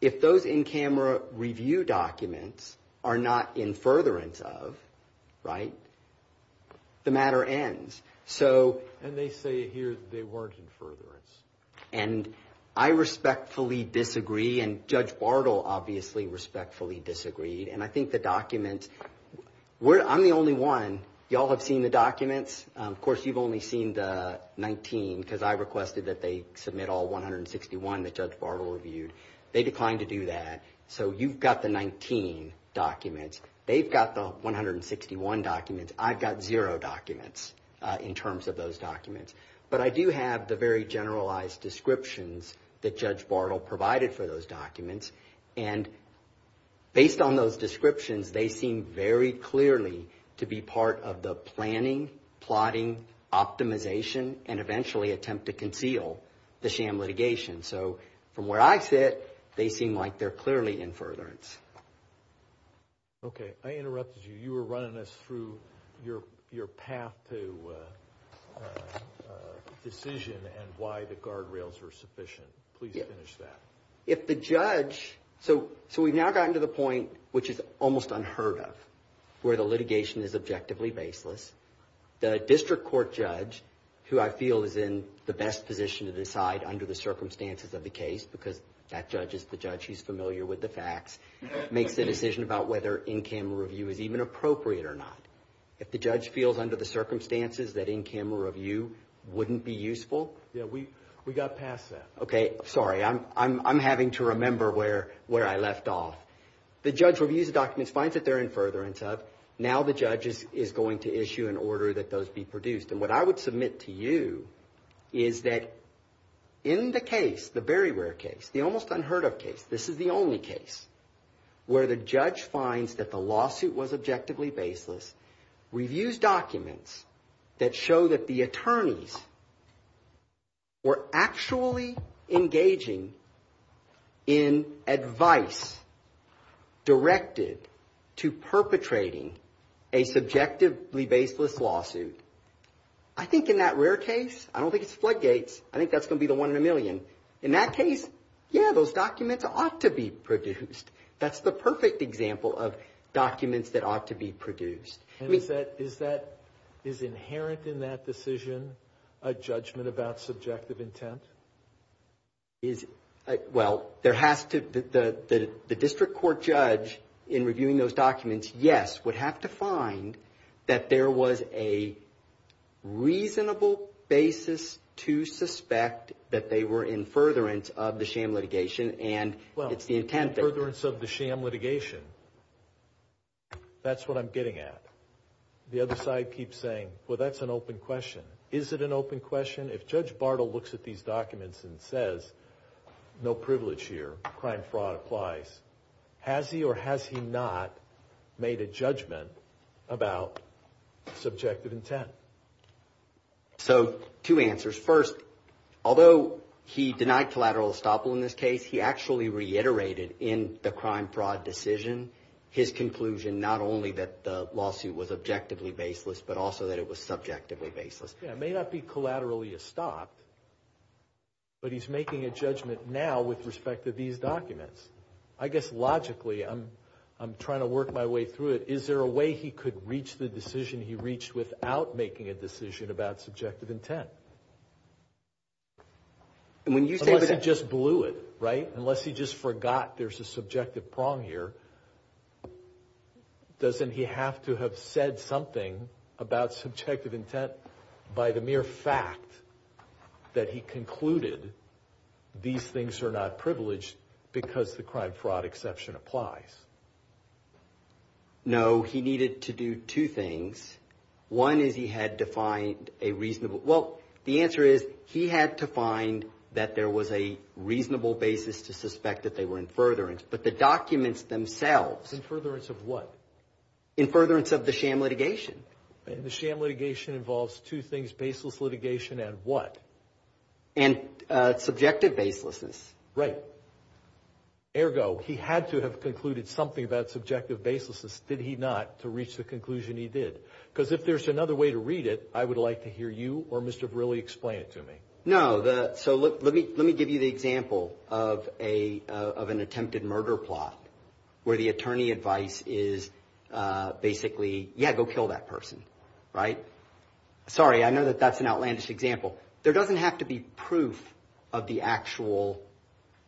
If those in camera review documents are not in furtherance of, right, the matter ends. So, and they say here that they weren't in furtherance. And I respectfully disagree, and Judge Bartle obviously respectfully disagreed, and I think the document, we're, I'm the only one, y'all have seen the documents. Of course, you've only seen the 19, because I requested that they submit all 161 that Judge Bartle reviewed. They declined to do that. So, you've got the 19 documents. They've got the 161 documents. I've got zero documents in terms of those documents. But I do have the very generalized descriptions that Judge Bartle provided for those documents, and based on those descriptions, they seem very clearly to be part of the planning, plotting, optimization, and eventually attempt to conceal the sham litigation. So, from where I sit, they seem like they're clearly in furtherance. Okay, I interrupted you. You were running us through your path to decision and why the guardrails were sufficient. Please finish that. If the judge, so we've now gotten to the point, which is almost unheard of, where the litigation is the district court judge, who I feel is in the best position to decide under the circumstances of the case, because that judge is the judge, he's familiar with the facts, makes the decision about whether in-camera review is even appropriate or not. If the judge feels under the circumstances that in-camera review wouldn't be useful. Yeah, we, we got past that. Okay, sorry, I'm, I'm, I'm having to remember where, where I left off. The judge reviews the documents, finds that they're in furtherance of, now the judge is, is going to issue an order that those be produced. And what I would submit to you is that in the case, the Berrywere case, the almost unheard of case, this is the only case where the judge finds that the lawsuit was objectively baseless, reviews documents that show that the attorneys were actually engaging in advice directed to perpetrating a subjectively baseless lawsuit. I think in that rare case, I don't think it's floodgates, I think that's gonna be the one in a million. In that case, yeah, those documents ought to be produced. That's the perfect example of documents that ought to be produced. Is that, is that, is inherent in that decision a judgment about subjective intent? Is, well, there has to, the, the, the district court judge in reviewing those documents, yes, would have to find that there was a reasonable basis to suspect that they were in furtherance of the sham litigation. That's what I'm getting at. The other side keeps saying, well, that's an open question. Is it an open question? If Judge Bartle looks at these documents and says, no privilege here, crime fraud applies, has he or has he not made a judgment about subjective intent? So, two answers. First, although he reiterated in the crime fraud decision his conclusion, not only that the lawsuit was objectively baseless, but also that it was subjectively baseless. It may not be collaterally a stop, but he's making a judgment now with respect to these documents. I guess, logically, I'm, I'm trying to work my way through it. Is there a way he could reach the decision he reached without making a decision about subjective intent? Because he just forgot there's a subjective prong here, doesn't he have to have said something about subjective intent by the mere fact that he concluded these things are not privileged because the crime fraud exception applies? No, he needed to do two things. One is he had to find a reasonable, well, the answer is he had to find that there was a reasonable basis to suspect that they were in furtherance, but the documents themselves. In furtherance of what? In furtherance of the sham litigation. And the sham litigation involves two things, baseless litigation and what? And subjective baselessness. Right. Ergo, he had to have concluded something about subjective baselessness, did he not, to reach the conclusion he did? Because if there's another way to read it, I would like to hear you actually explain it to me. No, the, so look, let me, let me give you the example of a, of an attempted murder plot, where the attorney advice is basically, yeah, go kill that person, right? Sorry, I know that that's an outlandish example. There doesn't have to be proof of the actual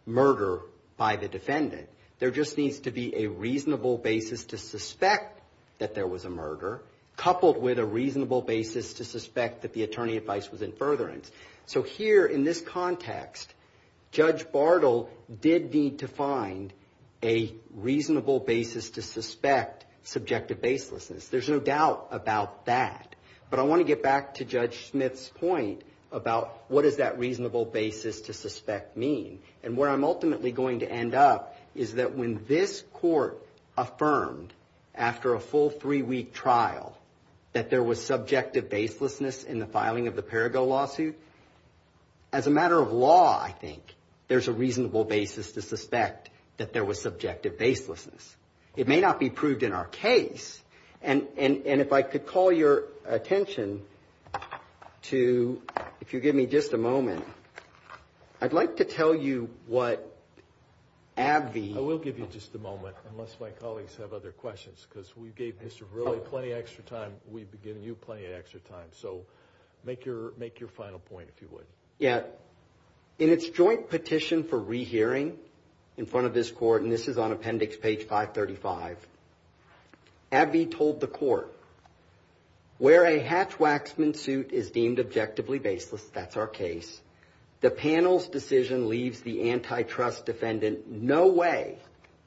murder by the defendant. There just needs to be a reasonable basis to suspect that there was a murder, coupled with a reasonable basis to suspect that the attorney advice was in furtherance. So here, in this context, Judge Bartle did need to find a reasonable basis to suspect subjective baselessness. There's no doubt about that, but I want to get back to Judge Smith's point about what does that reasonable basis to suspect mean? And where I'm ultimately going to end up is that when this court affirmed, after a full three-week trial, that there was subjective baselessness in the filing of the Perrigo lawsuit, as a matter of law, I think, there's a reasonable basis to suspect that there was subjective baselessness. It may not be proved in our case, and, and, and if I could call your attention to, if you give me just a moment, I'd like to tell you what AbbVie... I will give you just a moment, unless my Mr. Verrilli, plenty of extra time, we'd be giving you plenty of extra time, so make your, make your final point, if you would. Yeah, in its joint petition for rehearing in front of this court, and this is on appendix page 535, AbbVie told the court, where a hatch-waxman suit is deemed objectively baseless, that's our case, the panel's decision leaves the antitrust defendant no way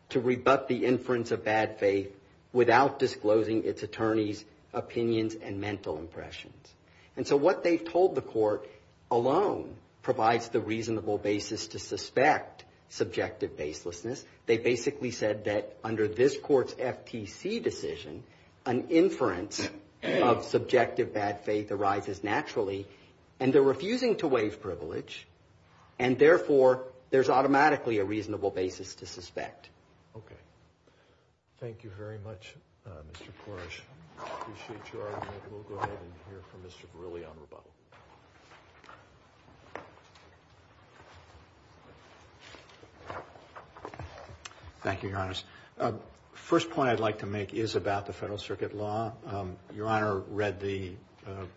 to rebut the inference of bad faith without disclosing its attorney's opinions and mental impressions, and so what they've told the court alone provides the reasonable basis to suspect subjective baselessness. They basically said that under this court's FTC decision, an inference of subjective bad faith arises naturally, and they're refusing to waive privilege, and therefore, there's automatically a Thank you very much, Mr. Koresh, I appreciate your argument, we'll go ahead and hear from Mr. Verrilli on rebuttal. Thank you, Your Honors. First point I'd like to make is about the Federal Circuit law. Your Honor read the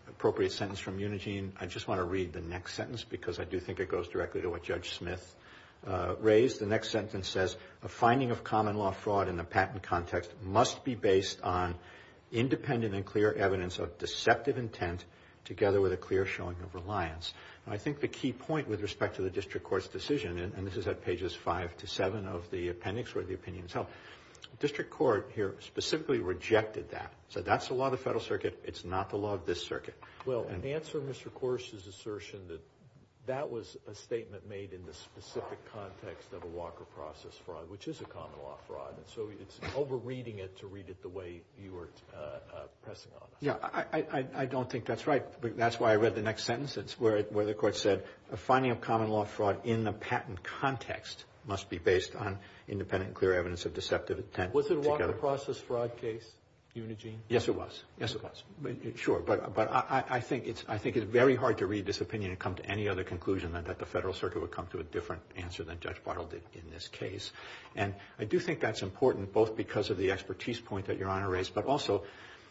appropriate sentence from Unigine, I just want to read the next sentence, because I do think it goes directly to what Judge Verrilli said, and I think the key point with respect to the District Court's decision, and this is at pages 5 to 7 of the appendix where the opinions held, the District Court here specifically rejected that, so that's the law of the Federal Circuit, it's not the law of this Circuit. Well, in answer to Mr. Koresh's assertion that that was a statement made in the specific context of a Walker Process Fraud, which is a common law fraud, and so it's not the law of this Circuit. You're over-reading it to read it the way you were pressing on it. Yeah, I don't think that's right, that's why I read the next sentence, it's where the Court said, a finding of common law fraud in the patent context must be based on independent and clear evidence of deceptive intent. Was it a Walker Process Fraud case, Unigine? Yes, it was. Yes, it was. Sure, but I think it's very hard to read this opinion and come to any other conclusion than that the Federal Circuit would come to a different answer than Judge Bartle did in this case. And I do think that's important, both because of the expertise point that Your Honor raised, but also,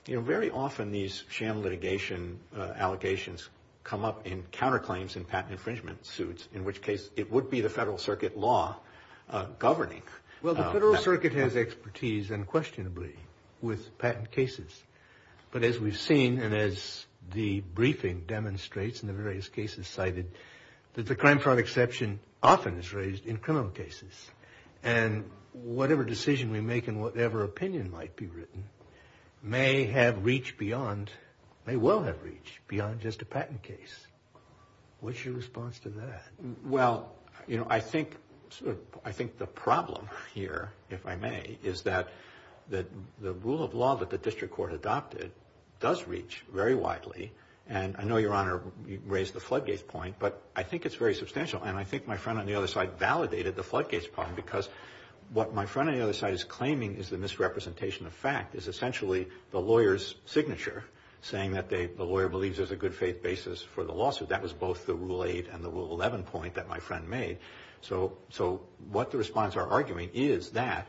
you know, very often these sham litigation allegations come up in counterclaims in patent infringement suits, in which case it would be the Federal Circuit law governing. Well, the Federal Circuit has expertise, unquestionably, with patent cases. But as we've seen, and as the briefing demonstrates in the various cases cited, that the crime fraud exception often is raised in criminal cases. And whatever decision we make and whatever opinion might be written may have reached beyond, may well have reached, beyond just a patent case. What's your response to that? Well, you know, I think the problem here, if I may, is that the rule of law that the District Court adopted does reach very widely. And I know, Your Honor, you raised the floodgates point, but I think it's very substantial. And I think my friend on the other side validated the floodgates point, because what my friend on the other side is claiming is the misrepresentation of fact. It's essentially the lawyer's signature saying that the lawyer believes there's a good faith basis for the lawsuit. That was both the Rule 8 and the Rule 11 point that my friend made. So what the respondents are arguing is that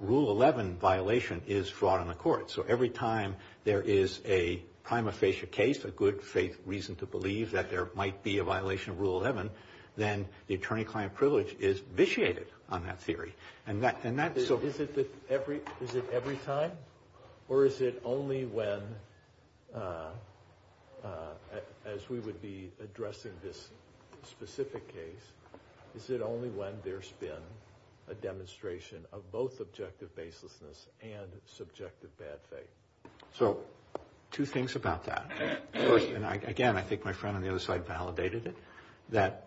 Rule 11 violation is fraud on the court. So every time there is a prima facie case, a good faith reason to believe that there might be a violation of Rule 11, then the attorney-client privilege is vitiated on that theory. Is it every time, or is it only when, as we would be addressing this specific case, is it only when there's been a demonstration of both objective baselessness and subjective bad faith? So, two things about that. Again, I think my friend on the other side validated it, that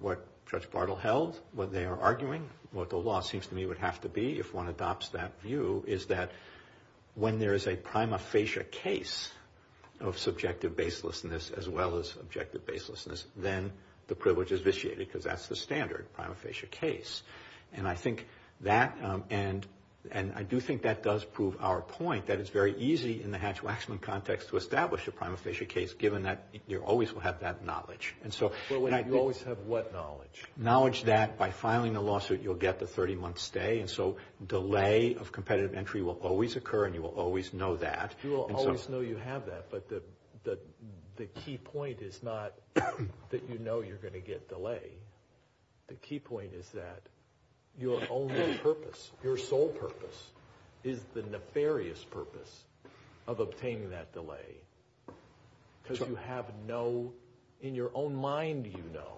what Judge Bartle held, what they are arguing, what the law seems to me would have to be if one adopts that view, is that when there is a prima facie case of subjective baselessness as well as objective baselessness, then the privilege is vitiated, because that's the standard prima facie case. And I do think that does prove our point, that it's very easy in the Hatch-Waxman context to establish a prima facie case, given that you always have that knowledge. You always have what knowledge? Knowledge that by filing a lawsuit, you'll get the 30-month stay, and so delay of competitive entry will always occur, and you will always know that. You will always know you have that, but the key point is not that you know you're going to get delay. The key point is that your only purpose, your sole purpose, is the nefarious purpose of obtaining that delay, because you have no, in your own mind you know,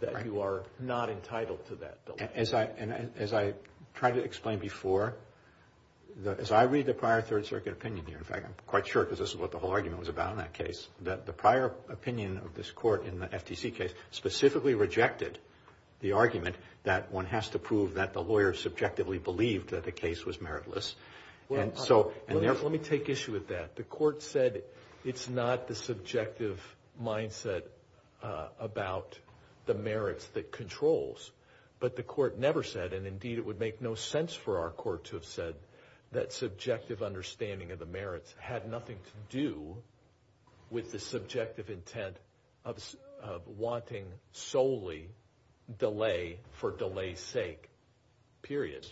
that you are not entitled to that delay. As I tried to explain before, as I read the prior Third Circuit opinion here, in fact I'm quite sure because this is what the whole argument was about in that case, that the prior opinion of this court in the FTC case specifically rejected the argument that one has to prove that the lawyer subjectively believed that the case was meritless. Let me take issue with that. The court said it's not the subjective mindset about the merits that controls, but the court never said, and indeed it would make no sense for our court to have said, that subjective understanding of the merits had nothing to do with the subjective intent of wanting solely delay for delay's sake, period.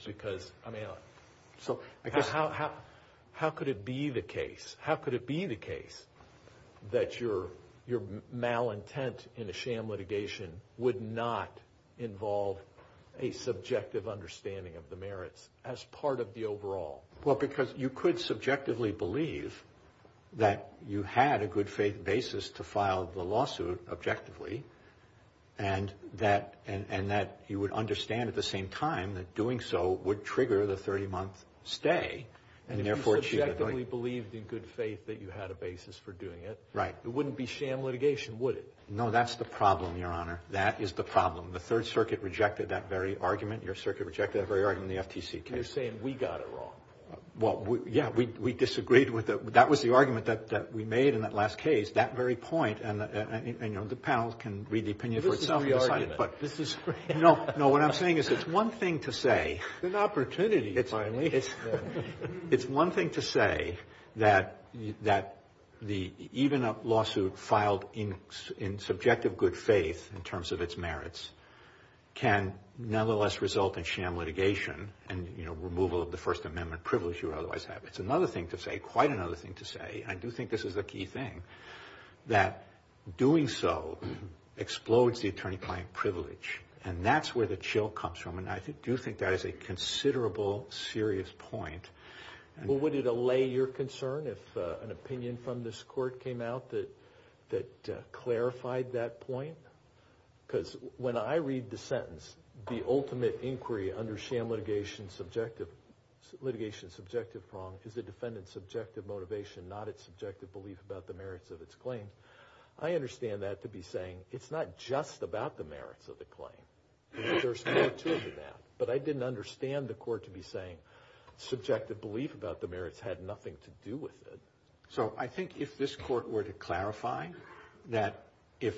How could it be the case that your malintent in a sham litigation would not involve a subjective understanding of the merits as part of the overall? Well, because you could subjectively believe that you had a good faith basis to file the lawsuit objectively, and that you would understand at the same time that doing so would trigger the 30 month stay. You subjectively believed in good faith that you had a basis for doing it. Right. It wouldn't be sham litigation, would it? No, that's the problem, your honor. That is the problem. The Third Circuit rejected that very argument, your circuit rejected that very argument in the FTC case. And they're saying we got it wrong. Well, yeah, we disagreed with it. That was the argument that we made in that last case, that very point, and the panel can read the opinion. This is the argument. It's one thing to say that even a lawsuit filed in subjective good faith in terms of its merits can nonetheless result in sham litigation and removal of the First Amendment privilege you otherwise have. It's another thing to say, quite another thing to say, and I do think this is a key thing, that doing so explodes the attorney-client privilege. And that's where the chill comes from, and I do think that is a considerable serious point. Well, would it allay your concern if an opinion from this court came out that clarified that point? Because when I read the sentence, the ultimate inquiry under sham litigation, litigation subjective wrong, is the defendant's subjective motivation, not its subjective belief about the merits of its claim. I understand that to be saying it's not just about the merits of the claim. There's more to that. But I didn't understand the court to be saying subjective belief about the merits had nothing to do with it. So I think if this court were to clarify that if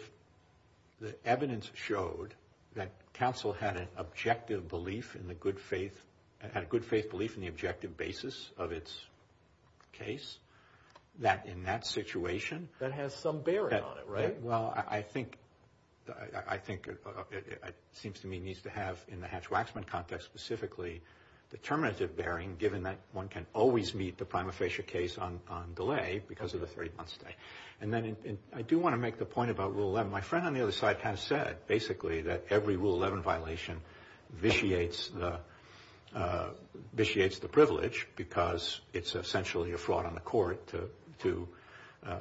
the evidence showed that counsel had an objective belief in the good faith, had a good faith belief in the objective basis of its case, that in that situation… That has some bearing on it, right? Well, I think it seems to me it needs to have, in the Hatch-Waxman context specifically, determinative bearing, given that one can always meet the prima facie case on delay because of the 30-month stay. And then I do want to make the point about Rule 11. My friend on the other side has said basically that every Rule 11 violation vitiates the privilege because it's essentially a fraud on the court to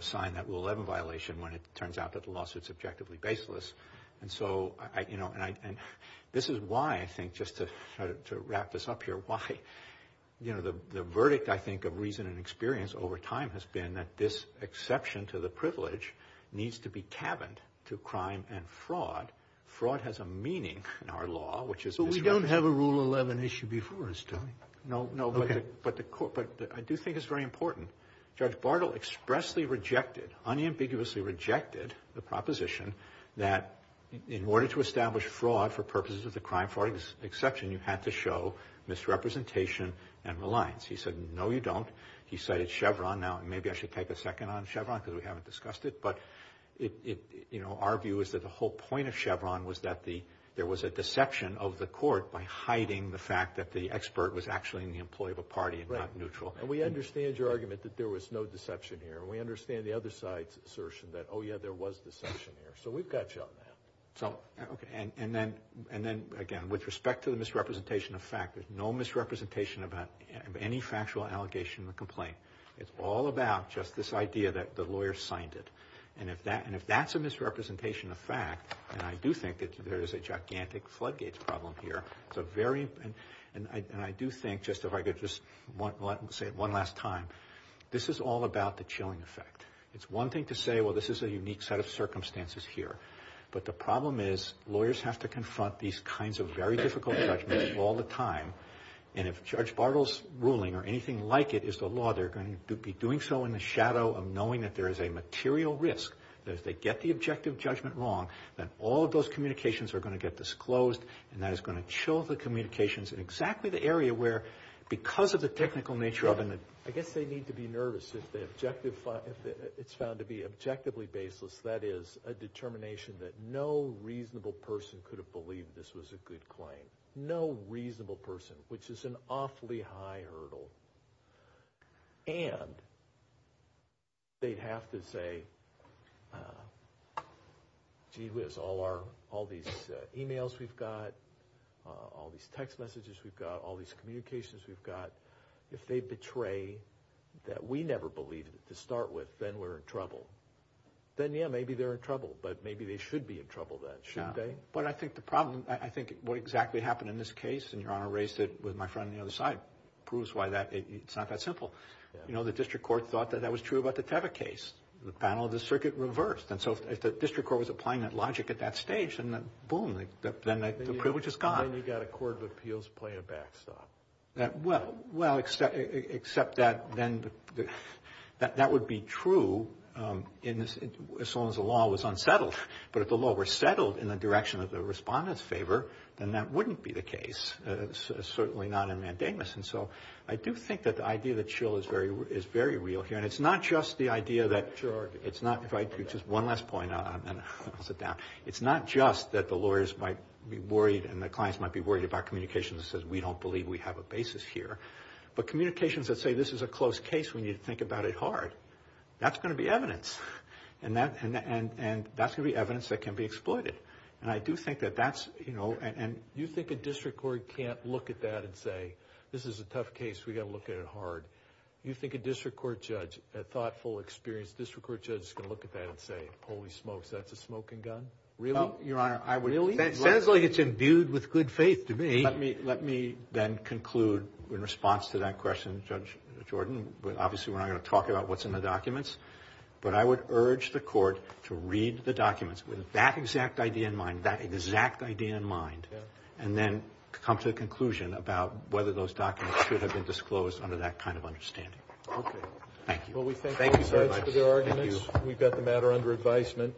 sign that Rule 11 violation when it turns out that the lawsuit is objectively baseless. And this is why, I think, just to wrap this up here, why the verdict, I think, of reason and experience over time has been that this exception to the privilege needs to be cabined to crime and fraud. Fraud has a meaning in our law, which is… But we don't have a Rule 11 issue before us, do we? No, but I do think it's very important. Judge Bartle expressly rejected, unambiguously rejected, the proposition that in order to establish fraud for purposes of the crime fraud exception, you have to show misrepresentation and reliance. He said, no, you don't. He cited Chevron. Now, maybe I should take a second on Chevron because we haven't discussed it, but our view is that the whole point of Chevron was that there was a deception of the court by hiding the fact that the expert was actually an employee of a party and not neutral. And we understand your argument that there was no deception here. We understand the other side's assertion that, oh, yeah, there was deception here. So we've got you on that. And then, again, with respect to the misrepresentation of fact, there's no misrepresentation of any factual allegation or complaint. It's all about just this idea that the lawyer signed it. And if that's a misrepresentation of fact, then I do think that there is a gigantic floodgates problem here. And I do think, just if I could just say it one last time, this is all about the chilling effect. It's one thing to say, well, this is a unique set of circumstances here. But the problem is lawyers have to confront these kinds of very difficult judgments all the time. And if Judge Bartle's ruling or anything like it is the law, they're going to be doing so in the shadow of knowing that there is a material risk. And if they get the objective judgment wrong, then all those communications are going to get disclosed. And that is going to chill the communications in exactly the area where, because of the technical nature of it, I guess they need to be nervous if it's found to be objectively baseless, that is, a determination that no reasonable person could have believed this was a good claim. No reasonable person, which is an awfully high hurdle. And they'd have to say, gee whiz, all these emails we've got, all these text messages we've got, all these communications we've got, if they betray that we never believed it to start with, then we're in trouble. Then, yeah, maybe they're in trouble, but maybe they should be in trouble then, shouldn't they? But I think the problem, I think what exactly happened in this case, and Your Honor raised it with my friend on the other side, proves why it's not that simple. You know, the district court thought that that was true about the Teva case. The panel of the circuit reversed. And so if the district court was applying that logic at that stage, then boom, then the privilege is gone. Then you've got a court of appeals playing a backstop. Well, except that then that would be true as long as the law was unsettled. But if the law were settled in the direction of the respondent's favor, then that wouldn't be the case, certainly not in Mandamus. And so I do think that the idea that Schill is very real here. And it's not just the idea that it's not quite true. Just one last point, and then I'll sit down. It's not just that the lawyers might be worried and the clients might be worried about communications that says we don't believe we have a basis here, but communications that say this is a close case when you think about it hard. That's going to be evidence. And that's going to be evidence that can be exploited. And I do think that that's, you know, and you think a district court can't look at that and say, this is a tough case, we've got to look at it hard. You think a district court judge, a thoughtful, experienced district court judge, is going to look at that and say, holy smokes, that's a smoking gun? Really? Your Honor, I would say it's imbued with good faith to me. Let me then conclude in response to that question, Judge Jordan. Obviously, we're not going to talk about what's in the documents. But I would urge the court to read the documents with that exact idea in mind, that exact idea in mind, and then come to the conclusion about whether those documents should have been disclosed under that kind of understanding. Thank you. Thank you, Judge. We've got the matter under advisement.